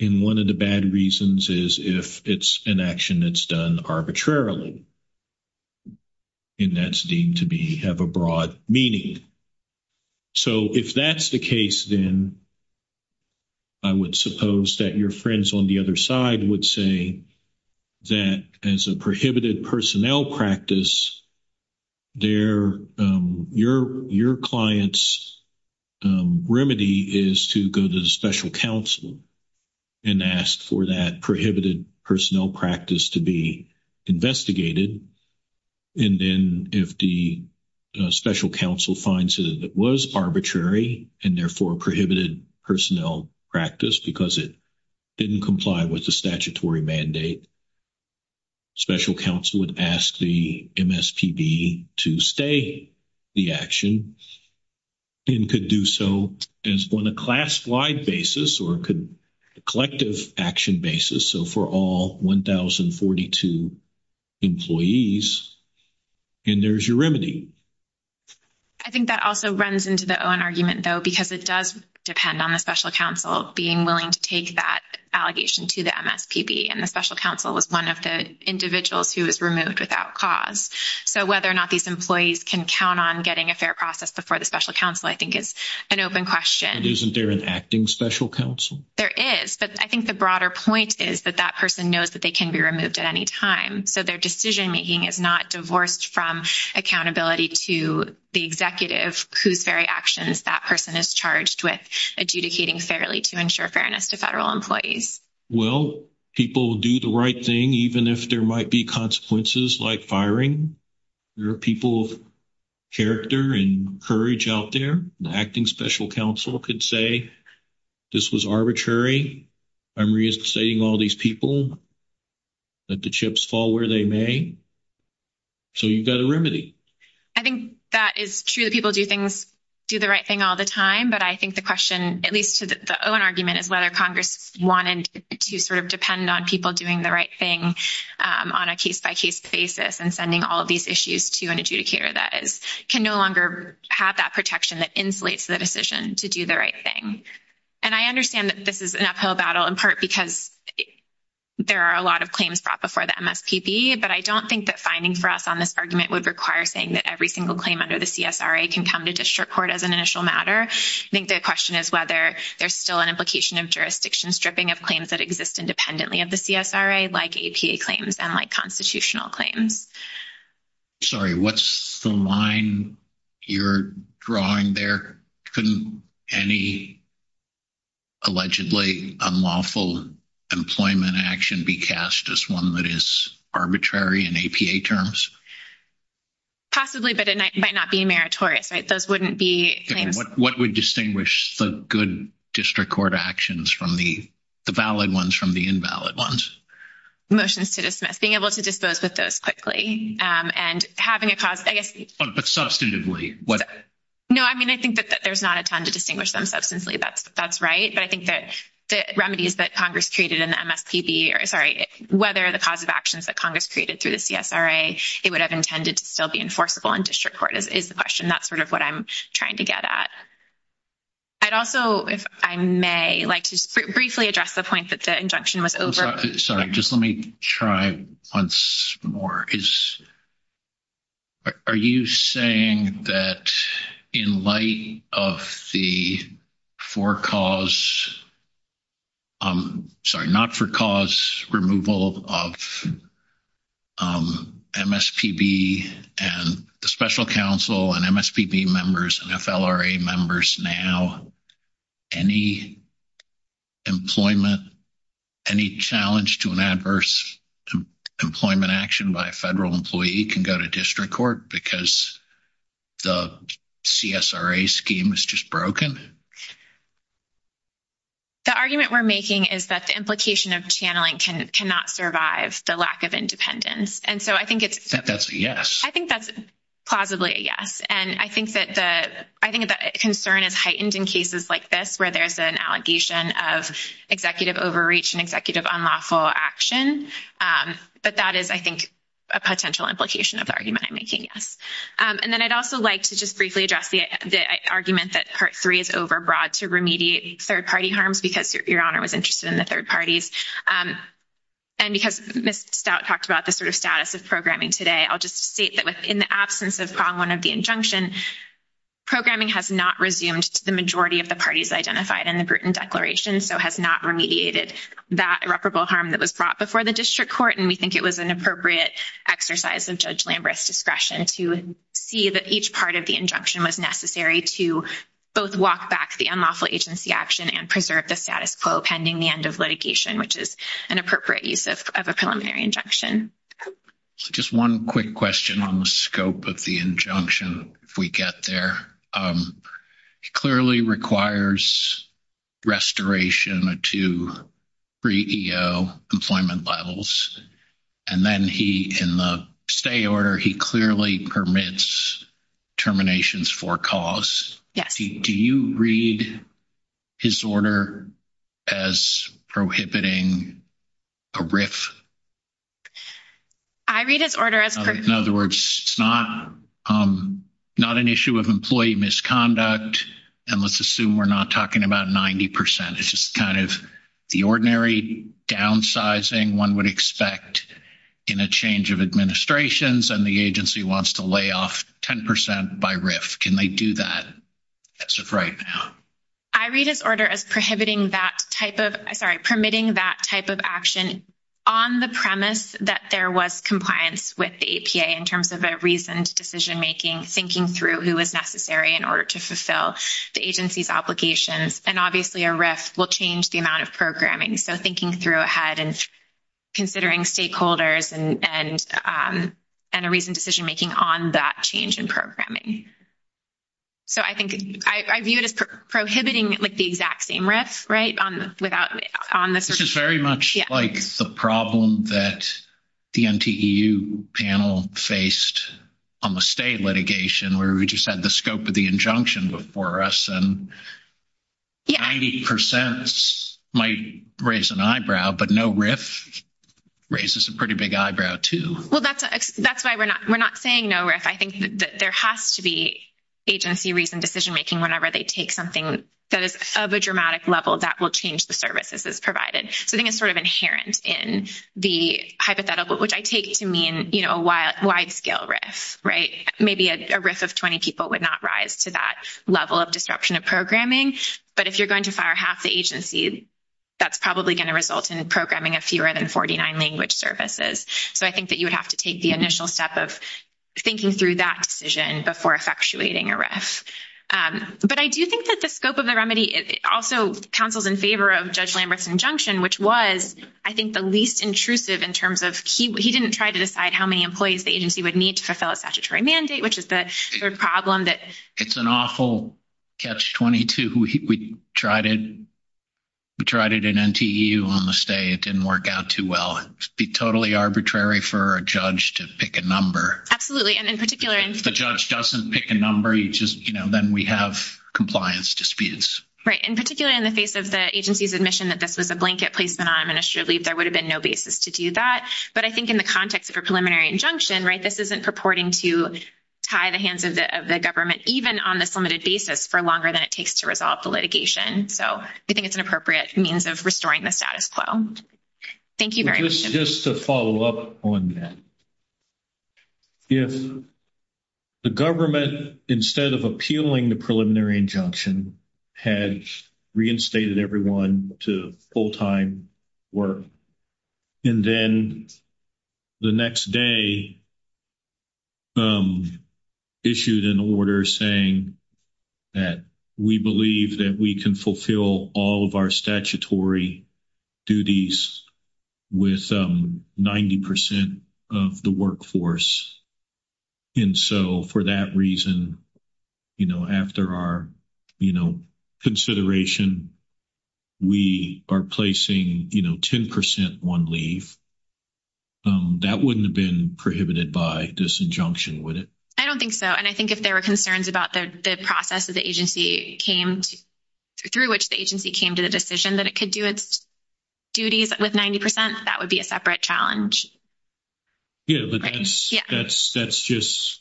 And one of the bad reasons is if it's an action that's done arbitrarily. And that's deemed to have a broad meaning. So if that's the case, then I would suppose that your friends on the other side would say that as a prohibited personnel practice, your client's remedy is to go to the special counsel and ask for that action. And then if the special counsel finds that it was arbitrary and therefore prohibited personnel practice because it didn't comply with the statutory mandate, special counsel would ask the MSPB to stay the action and could do so on a class-wide basis or a collective action basis. So for all 1,042 employees, and there's your remedy. I think that also runs into the Owen argument, though, because it does depend on the special counsel being willing to take that allegation to the MSPB. And the special counsel is one of the individuals who is removed without cause. So whether or not these employees can count on getting a fair process before the special counsel I think is an open question. Isn't there an acting special counsel? There is. But I think the broader point is that that person knows that they can be removed at any time. So their decision-making is not divorced from accountability to the executive whose very actions that person is charged with adjudicating fairly to ensure fairness to federal employees. Well, people do the right thing even if there might be consequences like firing. There are people of character and courage out there. The acting special counsel could say this was arbitrary. I'm resuscitating all these people. Let the chips fall where they may. So you've got a remedy. I think that is true that people do the right thing all the time. But I think the question, at least to the Owen argument, is whether Congress wanted to sort of depend on people doing the right thing on a case-by-case basis and sending all these issues to an executive who insulates the decision to do the right thing. And I understand that this is an uphill battle, in part because there are a lot of claims brought before the MSPB. But I don't think that finding for us on this argument would require saying that every single claim under the CSRA can come to district court as an initial matter. I think the question is whether there's still an implication of jurisdiction stripping of claims that exist independently of the CSRA, like APA claims and like constitutional claims. Sorry, what's the line you're drawing there? Couldn't any allegedly unlawful employment action be cast as one that is arbitrary in APA terms? Possibly, but it might not be meritorious, right? Those wouldn't be... What would distinguish the good district court actions from the valid ones from the invalid ones? Motion is to dismiss. Being able to dispose of those quickly and having a cause, I guess... But substantively, what... No, I mean, I think that there's not a time to distinguish them substantively. That's right. But I think that the remedies that Congress created in the MSPB, or sorry, whether the cause of actions that Congress created through the CSRA, it would have intended to still be enforceable in district court, is the question. That's sort of what I'm trying to get at. I'd also, if I may, like to briefly address the point that the injunction was over... Sorry, just let me try once more. Are you saying that in light of the for-cause... Sorry, not-for-cause removal of MSPB and the special counsel and MSPB members and FLRA members now, any employment, any challenge to an adverse employment action by a federal employee can go to district court because the CSRA scheme is just broken? The argument we're making is that the implication of channeling cannot survive the lack of independence. And so I think it's... That's a yes. I think that's plausibly a yes. And I think that the concern is heightened in cases like this, where there's an allegation of executive overreach and executive unlawful action. But that is, I think, a potential implication of the argument I'm making, yes. And then I'd also like to just briefly address the argument that Part 3 is overbroad to remediate third-party harms because Your Honor was interested in the third parties. And because Ms. Stout talked about the sort of status of programming today, I'll just state that in the absence of Problem 1 of the injunction, programming has not resumed to the majority of the parties identified in the Bruton Declaration, so has not remediated that irreparable harm that was brought before the district court. And we think it was an appropriate exercise of Judge Lambert's discretion to see that each part of the injunction was necessary to both walk back the unlawful agency action and preserve the status quo pending the end of litigation, which is an appropriate use of a preliminary injunction. Just one quick question on the scope of the injunction if we get there. It clearly requires restoration to pre-EO employment levels. And then he, in the stay order, he clearly permits terminations for cause. Yes. Do you read his order as prohibiting a RIF? I read his order as... In other words, it's not an issue of employee misconduct. And let's assume we're not talking about 90%. It's just kind of the ordinary downsizing one would expect in a change of administrations and the agency wants to lay off 10% by RIF. Can they do that as of right now? I read his order as prohibiting that type of... Sorry, permitting that type of action on the premise that there was compliance with the APA in terms of a reasoned decision-making, thinking through who was necessary in order to fulfill the agency's obligations. And obviously, a RIF will change the amount of programming. So thinking through ahead and considering stakeholders and a reasoned decision-making on that change in programming. So I think I view it as prohibiting, like, the exact same RIF, right, without... This is very much like the problem that the NTEU panel faced on the stay litigation where we just had the scope of the injunction before us and 90% might raise an eyebrow, but no RIF raises a pretty big eyebrow, too. Well, that's why we're not saying no RIF. I think that there has to be agency reasoned decision-making whenever they take something that is of a dramatic level that will change the services that's provided. I think it's sort of inherent in the hypothetical, which I take to mean, you know, a wide-scale RIF, right? Maybe a RIF of 20 people would not rise to that level of disruption of programming, but if you're going to fire half the agency, that's probably going to result in programming of fewer than 49 language services. So I think that you would have to take the initial step of thinking through that decision before effectuating a RIF. But I do think that the scope of the remedy also counseled in favor of Judge Lambert's injunction, which was, I think, the least intrusive in terms of he didn't try to decide how many employees the agency would need to fulfill its statutory mandate, which is the problem that... It's an awful catch-22. We tried it in NTEU on the stay. It didn't work out too well. It would be totally arbitrary for a judge to pick a number. And in particular... If the judge doesn't pick a number, you just, you know, then we have compliance disputes. Right. And particularly in the face of the agency's admission that this is a blanket placement on administrative leave, there would have been no basis to do that. But I think in the context of a preliminary injunction, right, this isn't purporting to tie the hands of the government, even on this limited basis, for longer than it takes to resolve the litigation. So I think it's an appropriate means of restoring the status quo. Thank you very much. Just to follow up on that. If the government, instead of appealing the preliminary injunction, had reinstated everyone to full-time work, and then the next day issued an order saying that we believe that we can have statutory duties with 90% of the workforce, and so for that reason, you know, after our, you know, consideration, we are placing, you know, 10% one leave. That wouldn't have been prohibited by this injunction, would it? I don't think so. And I think if there were concerns about the process that the agency came through, which the agency came to the decision that it could do its duties with 90%, that would be a separate challenge. Yeah, but that's just,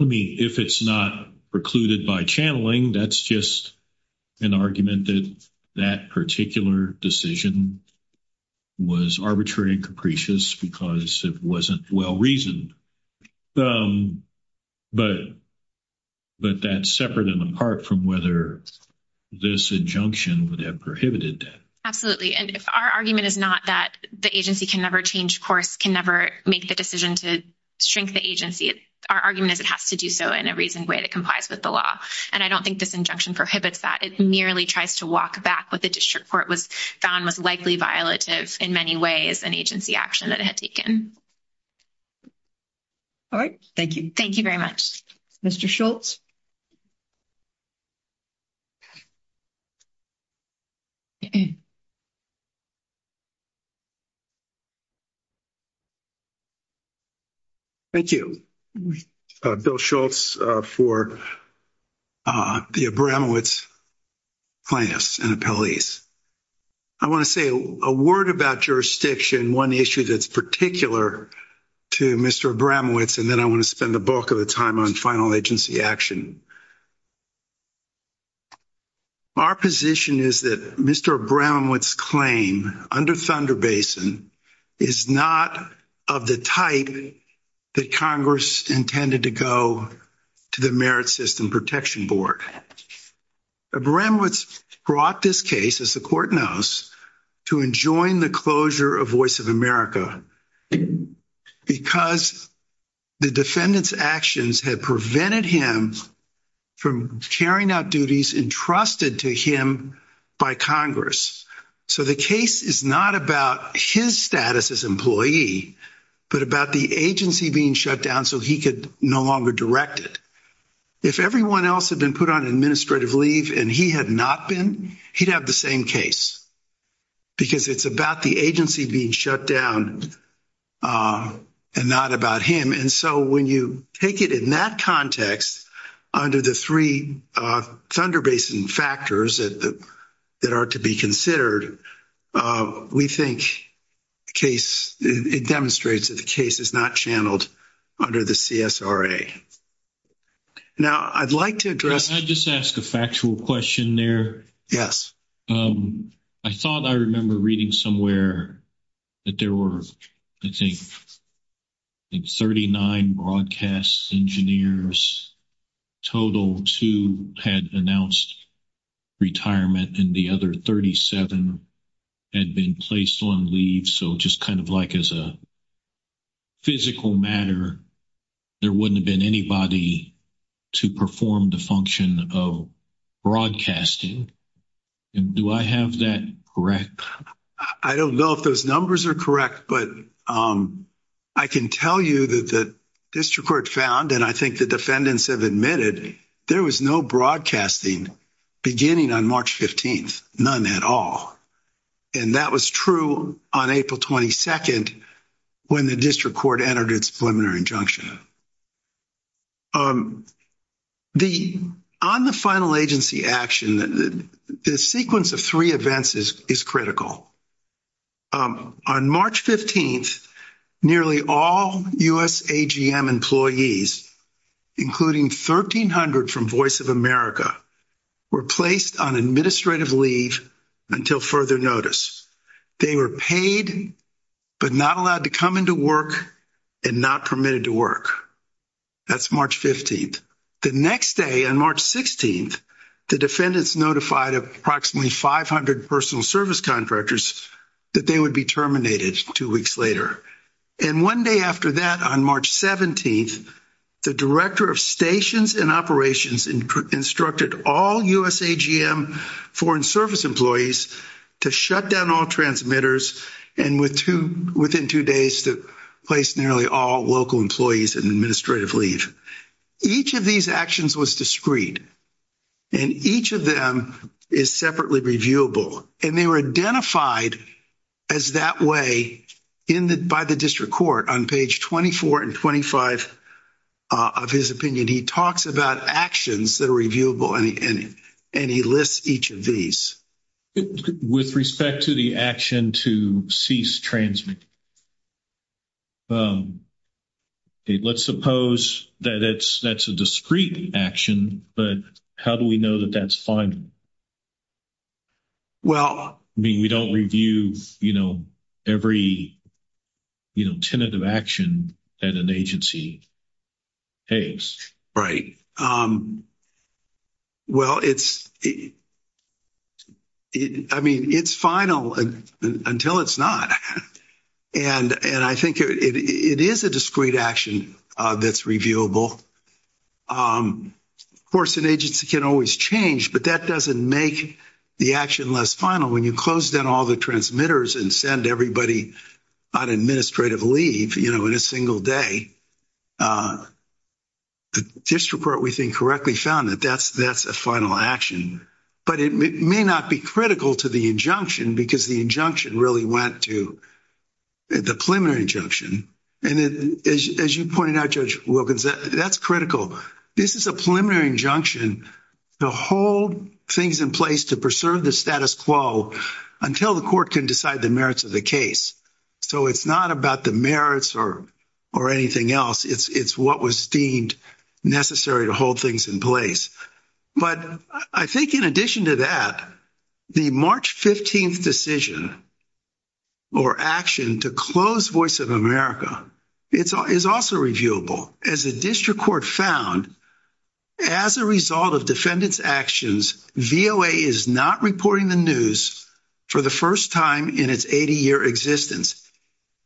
I mean, if it's not precluded by channeling, that's just an argument that that particular decision was arbitrary and capricious because it wasn't well-reasoned. But that's separate and apart from whether this injunction would have prohibited that. Absolutely. And our argument is not that the agency can never change course, can never make the decision to shrink the agency. Our argument is it has to do so in a reasoned way that complies with the law. And I don't think this injunction prohibits that. It merely tries to walk back what the district court was found was likely in many ways an agency action that it had taken. All right. Thank you. Thank you very much. Mr. Schultz. Thank you. Bill Schultz for the Brownwoods plaintiffs and appellees. I want to say a word about jurisdiction, one issue that's particular to Mr. Abramowitz, and then I want to spend the bulk of the time on final agency action. Our position is that Mr. Abramowitz's claim under Thunder Basin is not of the type that Congress intended to go to the Merit System Protection Board. Abramowitz brought this case, as the court knows, to enjoin the closure of Voice of America because the defendant's actions had prevented him from carrying out duties entrusted to him by Congress. So the case is not about his status as employee, but about the agency being shut down so he could no longer direct it. If everyone else had been put on administrative leave and he had not been, he'd have the same case because it's about the agency being shut down and not about him. And so when you take it in that context, under the three Thunder Basin factors that are to be considered, we think it demonstrates that the case is not channeled under the CSRA. Now, I'd like to address... Can I just ask a factual question there? Yes. I thought I remember reading somewhere that there were, I think, 39 broadcast engineers, total two had announced retirement, and the other 37 had been placed on leave. So just kind of like as a physical matter, there wouldn't have been anybody to perform the function of broadcasting. Do I have that correct? I don't know if those numbers are correct, but I can tell you that the district court found, and I think the defendants have admitted, there was no broadcasting beginning on March 15th, none at all. And that was true on April 22nd when the district court entered its preliminary injunction. On the final agency action, the sequence of three events is critical. On March 15th, nearly all USAGM employees, including 1,300 from Voice of America, were placed on administrative leave until further notice. They were paid, but not allowed to come into work, and not permitted to work. That's March 15th. The next day on March 16th, the defendants notified approximately 500 personal service contractors that they would be terminated two weeks later. And one day after that, on March 17th, the director of stations and operations instructed all USAGM foreign service employees to shut down all transmitters, and within two days to place nearly all local employees in administrative leave. Each of these actions was discreet. And each of them is separately reviewable. And they were identified as that way by the district court. On page 24 and 25 of his opinion, he talks about actions that are reviewable, and he lists each of these. With respect to the action to cease transmit, let's suppose that that's a discreet action, but how do we know that that's fine? Well, we don't review, you know, every, you know, tentative action that an agency takes. Well, it's, I mean, it's final until it's not. And I think it is a discreet action that's reviewable. Of course, an agency can always change, but that doesn't make the action less final when you close down all the transmitters and send everybody on administrative leave, you know, in a single day. The district court we think correctly found that that's a final action, but it may not be critical to the injunction because the injunction really went to the preliminary injunction. And as you pointed out, Judge Wilkins, that's critical. This is a preliminary injunction to hold things in place to preserve the status quo until the court can decide the merits of the case. So it's not about the merits or anything else. It's what was deemed necessary to hold things in place. But I think in addition to that, the March 15th decision or action to close Voice of America is also reviewable. As a district court found as a result of defendant's actions, VOA is not reporting the news for the first time in its 80 year existence.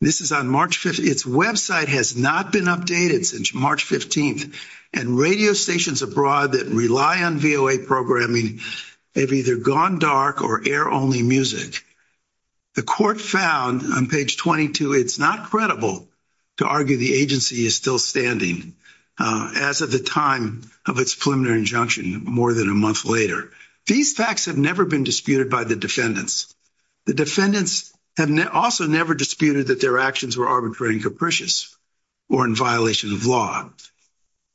This is on March 5th. Its website has not been updated since March 15th and radio stations abroad that rely on VOA programming have either gone dark or air only music. The court found on page 22, it's not credible to argue the agency is still standing as of the time of its preliminary injunction more than a month later. These facts have never been disputed by the defendants. The defendants have also never disputed that their actions were arbitrary and capricious or in violation of law.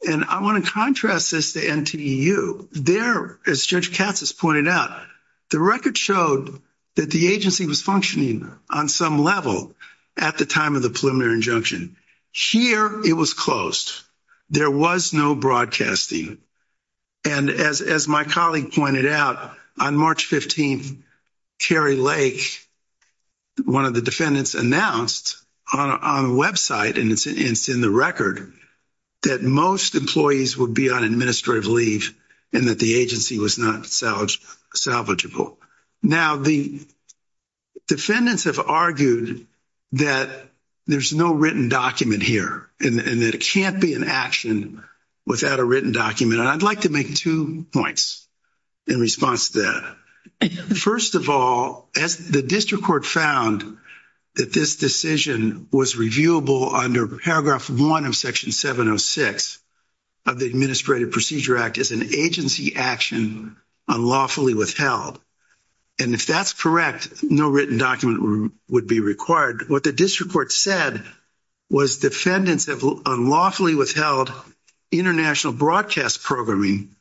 And I want to contrast this to NTU. There, as Judge Katz has pointed out, the record showed that the agency was functioning on some level at the time of the preliminary injunction. Here, it was closed. There was no broadcasting. And as, as my colleague pointed out on March 15th, Carrie Lake, one of the defendants announced on a website, and it's in the record that most employees would be on administrative leave and that the agency was not salvage, salvageable. Now the defendants have argued that there's no written document here and that it can't be an action without a written document. And I'd like to make two points in response to that. First of all, as the district court found that this decision was reviewable under paragraph one of section 706 of the Administrative Procedure Act as an agency action unlawfully withheld. And if that's correct, no written document would be required. What the district court said was defendants have unlawfully withheld international broadcast programming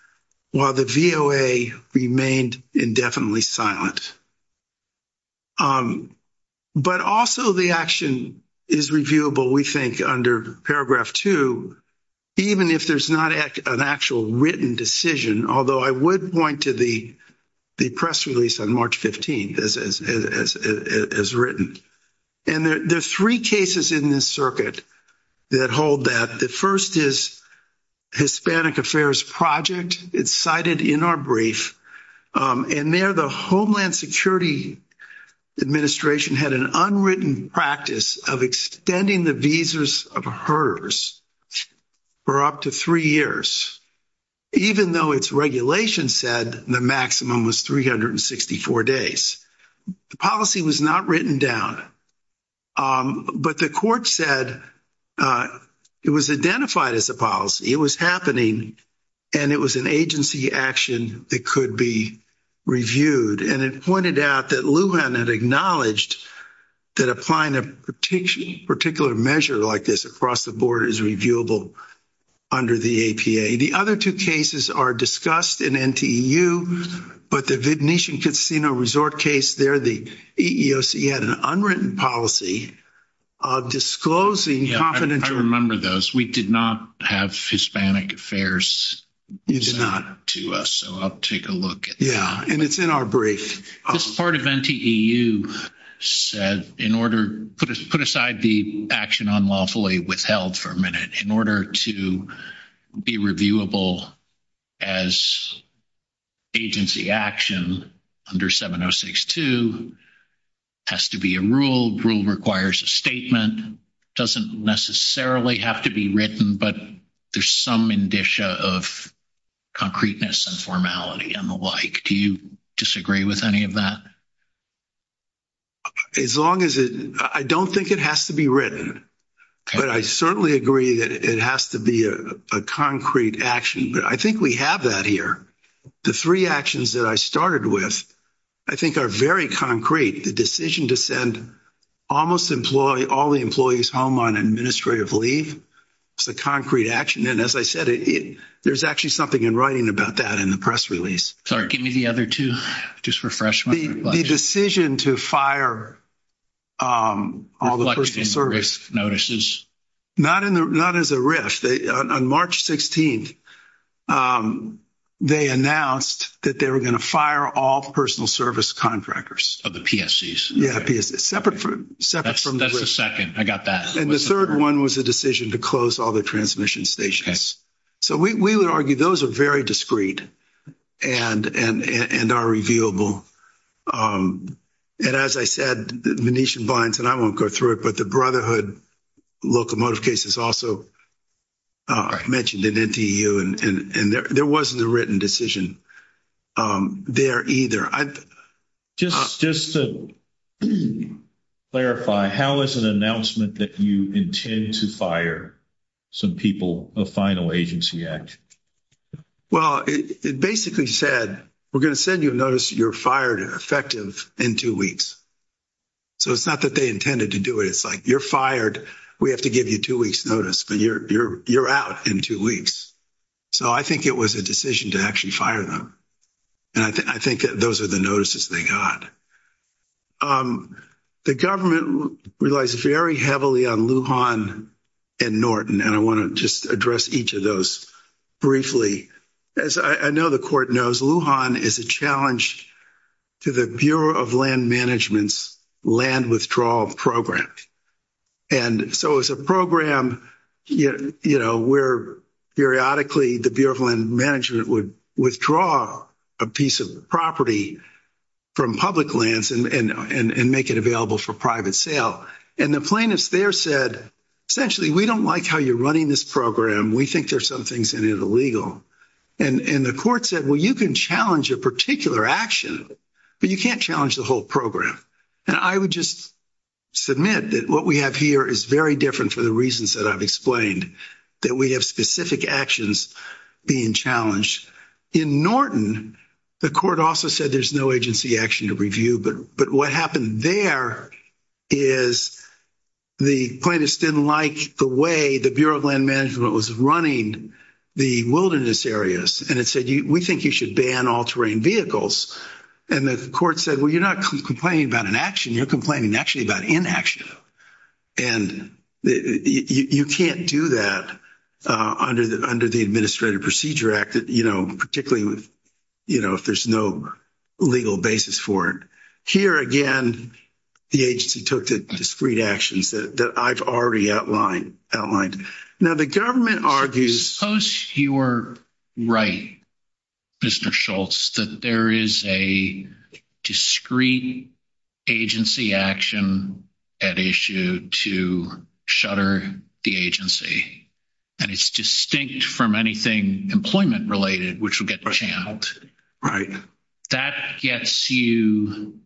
while the VOA remained indefinitely silent. But also the action is reviewable, we think under paragraph two, even if there's not an actual written decision. Although I would point to the press release on March 15th as written. And there's three cases in this circuit that hold that. The first is Hispanic Affairs Project. It's cited in our brief. And there the Homeland Security Administration had an unwritten practice of extending the visas of hers for up to three years, even though its regulation said the maximum was 364 days. The policy was not written down, but the court said it was identified as a policy. It was happening and it was an agency action that could be reviewed. And it pointed out that Lujan had acknowledged that applying a particular measure like this across the board is reviewable under the APA. The other two cases are discussed in NTU, but the Venetian Casino Resort case there, the EEOC had an unwritten policy disclosing confidentiality. I remember those. We did not have Hispanic Affairs. It's not up to us. So I'll take a look. Yeah. And it's in our brief. Part of NTU said in order, put aside the action unlawfully withheld for a minute in order to be reviewable as agency action under 7062 has to be a rule. Rule requires a statement. It doesn't necessarily have to be written, but there's some indicia of concreteness and formality and the like. Do you disagree with any of that? As long as it, I don't think it has to be written, but I certainly agree that it has to be a concrete action, but I think we have that here. The three actions that I started with, I think are very concrete. The decision to send almost employ all the employees home on administrative leave. It's a concrete action. And as I said, there's actually something in writing about that in the press release. Sorry, give me the other two. Just refresh. The decision to fire all the service notices. Not in the, not as a risk. On March 16th, they announced that they were going to fire all personal service contractors. Of the PSCs. Yeah. That's the second. I got that. And the third one was a decision to close all the transmission stations. So we would argue those are very discreet and, and, and, and are reviewable. And as I said, the Venetian blinds and I won't go through it, but the brotherhood locomotive cases also mentioned in NTU and there, there wasn't a written decision there either. Just, just to clarify, how is an announcement that you intend to fire some people, the final agency act? Well, it basically said, we're going to send you a notice that you're fired and effective in two weeks. So it's not that they intended to do it. It's like you're fired. We have to give you two weeks notice, but you're, you're, you're out in two weeks. So I think it was a decision to actually fire them. And I think those are the notices they got. The government relies very heavily on Lujan and Norton. And I want to just address each of those briefly, as I know the court knows, Lujan is a challenge to the Bureau of land management's land withdrawal program. And so it was a program, you know, where periodically the Bureau of land management would withdraw a piece of property from public lands and, and, and make it available for private sale. And the plaintiff there said, essentially, we don't like how you're running this program. We think there's some things in it illegal. And, and the court said, well, you can challenge a particular action, but you can't challenge the whole program. And I would just submit that what we have here is very different to the reasons that I've explained that we have specific actions being challenged in Norton. The court also said there's no agency action to review, but, but what happened there is the plaintiffs didn't like the way the Bureau of land management was running the wilderness areas. And it said, you, we think you should ban all terrain vehicles. And the court said, well, you're not complaining about an action. You're complaining actually about inaction. And you can't do that under the, under the administrative procedure act, you know, particularly with, you know, if there's no legal basis for it here, again, the agency took the discrete actions that I've already outlined outlined. Now the government argues. Suppose you were right, Mr. Schultz, that there is a discrete agency action at issue to shutter the agency. And it's distinct from anything employment related, which will get channeled. That gets you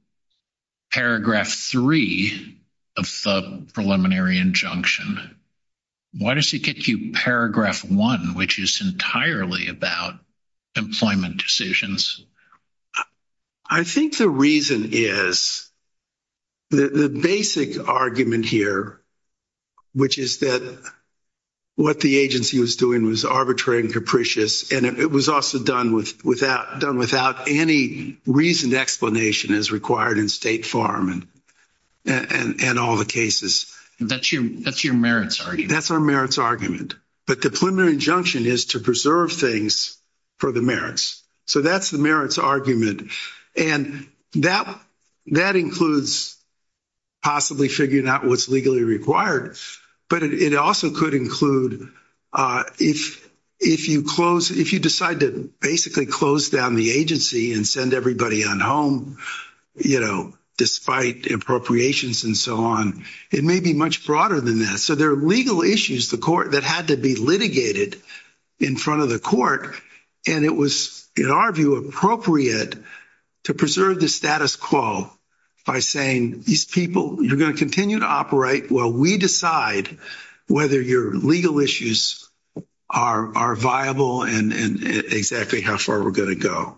paragraph three of the preliminary injunction. Why does it get you paragraph one, which is entirely about employment decisions? I think the reason is the basic argument here, which is that what the agency was doing was arbitrary and capricious. And it was also done with without done without any reason explanation as required in state farm and, and, and all the cases. That's your, that's your merits. That's our merits argument, but the preliminary injunction is to preserve things for the merits. So that's the merits argument. And that, that includes possibly figuring out what's legally required, but it also could include if, if you close, if you decide to basically close down the agency and send everybody on home, you know, despite the appropriations and so on, it may be much broader than that. So there are legal issues the court that had to be litigated in front of the court. And it was, in our view, appropriate to preserve the status quo by saying these people, you're going to continue to operate. Well, we decide whether your legal issues are, are viable and exactly how far we're going to go.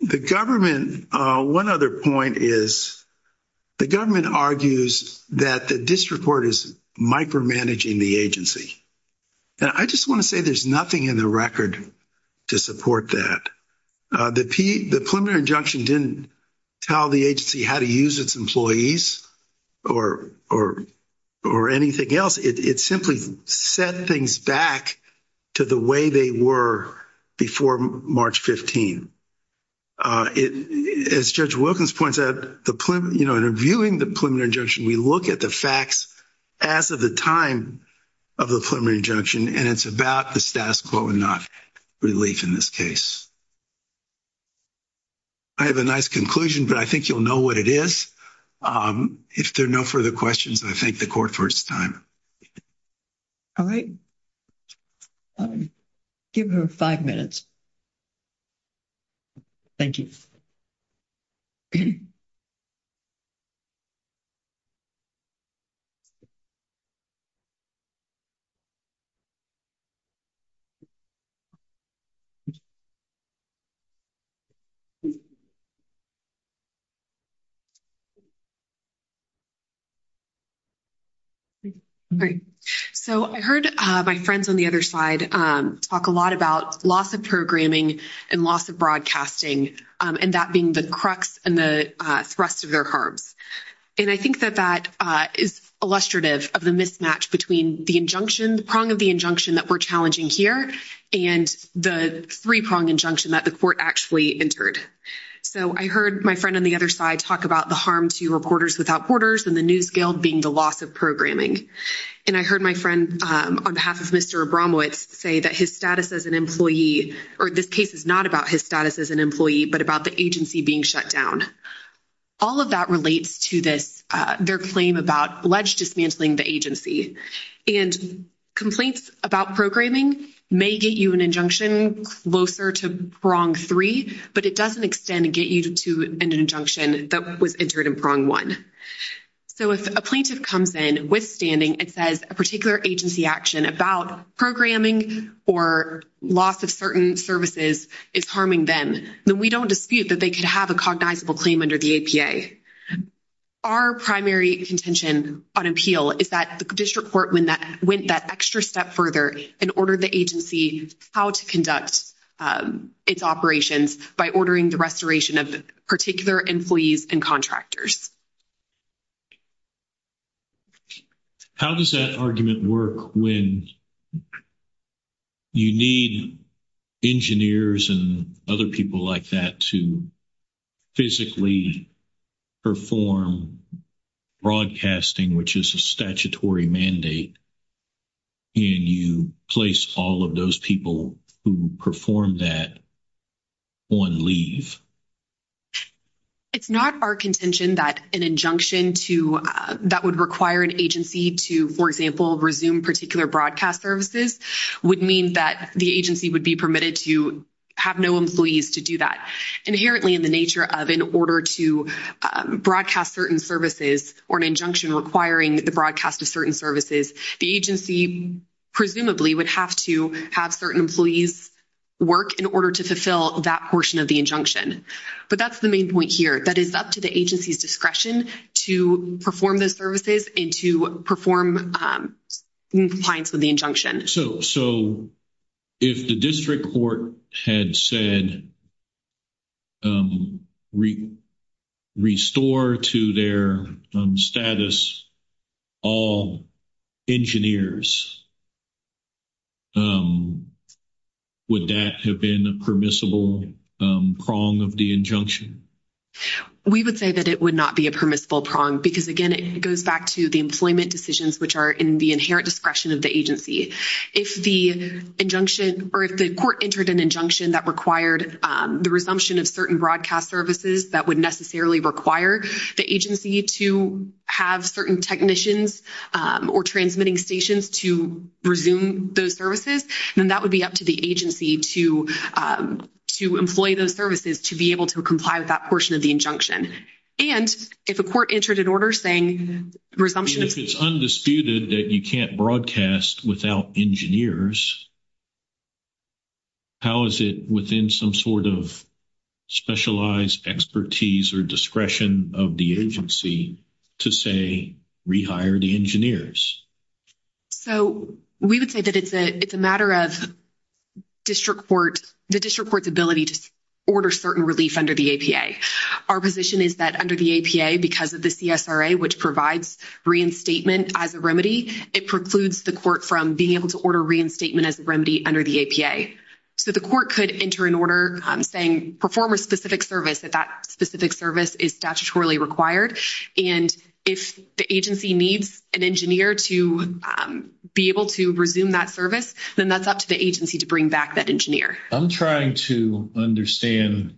The government one other point is the government argues that the district court is micromanaging the agency. And I just want to say there's nothing in the record to support that. The P the preliminary injunction didn't tell the agency how to use its employees or, or, or anything else. It simply set things back to the way they were before March 15. It is Judge Wilkins points out the plan, you know, get the facts as of the time of the preliminary injunction. And it's about the status quo and not relief in this case. I have a nice conclusion, but I think you'll know what it is. If there are no further questions, I think the court first time. All right. Give her five minutes. Thank you. Okay. So I heard my friends on the other side talk a lot about loss of programming and loss of broadcasting. And that being the crux and the thrust of their heart. And I think that that is illustrative of the mismatch between the injunction, the prong of the injunction that we're challenging here and the three prong injunction that the court actually entered. So I heard my friend on the other side, talk about the harm to reporters without quarters and the new scale being the loss of programming. And I heard my friend on behalf of Mr. Abramowitz say that his status as an employee, or this case is not about his status as an employee, but about the agency being shut down. All of that relates to this, their claim about alleged dismantling the agency and complaints about programming may get you an injunction closer to prong three, but it doesn't extend and get you to an injunction that was entered in prong one. So if a plaintiff comes in withstanding, it says a particular agency action about programming or loss of certain services is harming them. Then we don't dispute that they could have a cognizable claim under the APA. Our primary contention on appeal is that the district court, when that went that extra step further and ordered the agency, how to conduct its operations by ordering the restoration of particular employees and contractors. How does that argument work? When you need engineers and other people like that to physically perform broadcasting, which is a statutory mandate, and you place all of those people who perform that on leave. It's not our contention that an injunction to that would require an agency to, for example, resume particular broadcast services would mean that the agency would be permitted to have no employees to do that inherently in the nature of, in order to broadcast certain services or an injunction requiring the broadcast of certain services, the agency presumably would have to have certain employees work in order to fulfill that portion of the injunction. But that's the main point here that is up to the agency's discretion to perform the services and to perform compliance with the injunction. So if the district court had said restore to their status all engineers, would that have been a permissible prong of the injunction? We would say that it would not be a permissible prong because again, it goes back to the employment decisions, which are in the inherent discretion of the agency. If the injunction or if the court entered an injunction that required the resumption of certain broadcast services that would necessarily require the agency to have certain technicians or transmitting stations to resume those services, then that would be up to the agency to, to employ those services, to be able to comply with that portion of the injunction. And if a court entered an order saying resumption... If it's undisputed that you can't broadcast without engineers, how is it within some sort of specialized expertise or discretion of the agency to say rehire the engineers? So we would say that it's a matter of district court, the district court's ability to order certain relief under the APA. Our position is that under the APA, because of the CSRA, which provides reinstatement as a remedy, it precludes the court from being able to order reinstatement as a remedy under the APA. So the court could enter an order saying perform a specific service if that specific service is statutorily required. And if the agency needs an engineer to be able to resume that service, then that's up to the agency to bring back that engineer. I'm trying to understand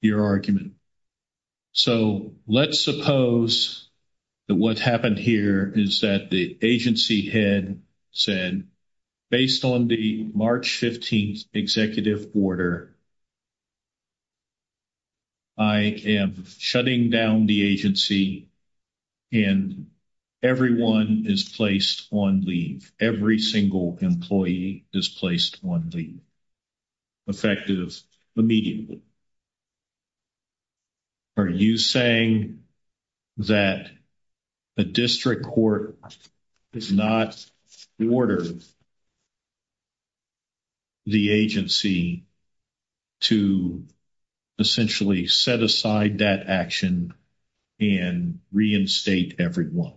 your argument. So let's suppose that what happened here is that the agency had said, based on the March 15th executive order, I am shutting down the agency and everyone is placed on leave. Every single employee is placed on leave. Effective immediately. Are you saying that the district court is not ordering the agency to essentially set aside that action and reinstate everyone?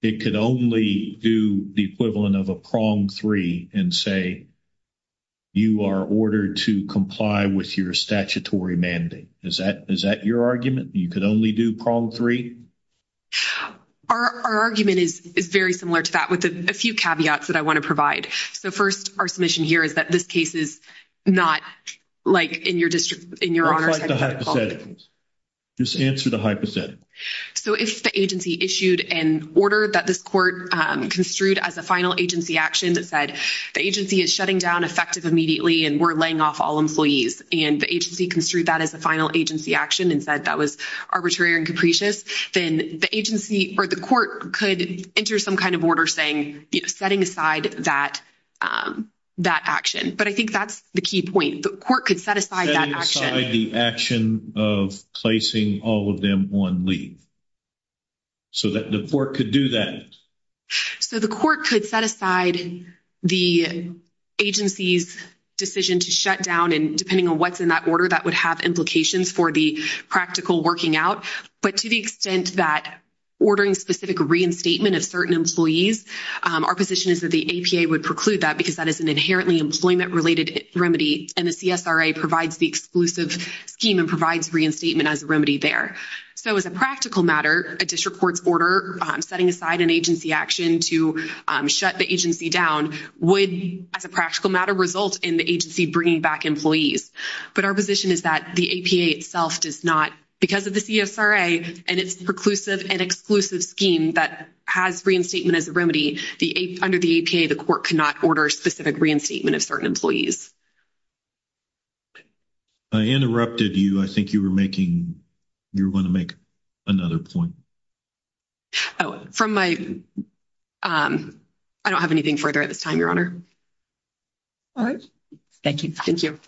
It could only do the equivalent of a prong three and say, you are ordered to comply with your statutory mandate. Is that your argument? You could only do prong three? Our argument is very similar to that with a few caveats that I want to provide. So first, our submission here is that this case is not like in your district, in your honor. Just answer the hypothetical. So if the agency issued an order that this court construed as a final agency action that said the agency is shutting down effective immediately and we're laying off all employees and the agency construed that as a final agency action and said that was arbitrary and capricious, then the agency or the court could enter some kind of order saying, setting aside that action. But I think that's the key point. The court could set aside that action. Setting aside the action of placing all of them on leave. So that the court could do that. So the court could set aside the agency's decision to shut down and depending on what's in that order, that would have implications for the practical working out. But to the extent that ordering specific reinstatement of certain employees our position is that the APA would preclude that because that is an inherently employment-related remedy and the CSRA provides the exclusive scheme and provides reinstatement as a remedy there. So as a practical matter, a district court's order setting aside an agency action to shut the agency down would as a practical matter result in the agency bringing back employees. But our position is that the APA itself does not, because of the CSRA and its preclusive and exclusive scheme that has reinstatement as a remedy, under the APA the court cannot order specific reinstatement of certain employees. I interrupted you. I think you were making, you were going to make another point. Oh, from my, I don't have anything further at this time, Your Honor. All right. Thank you. Thank you.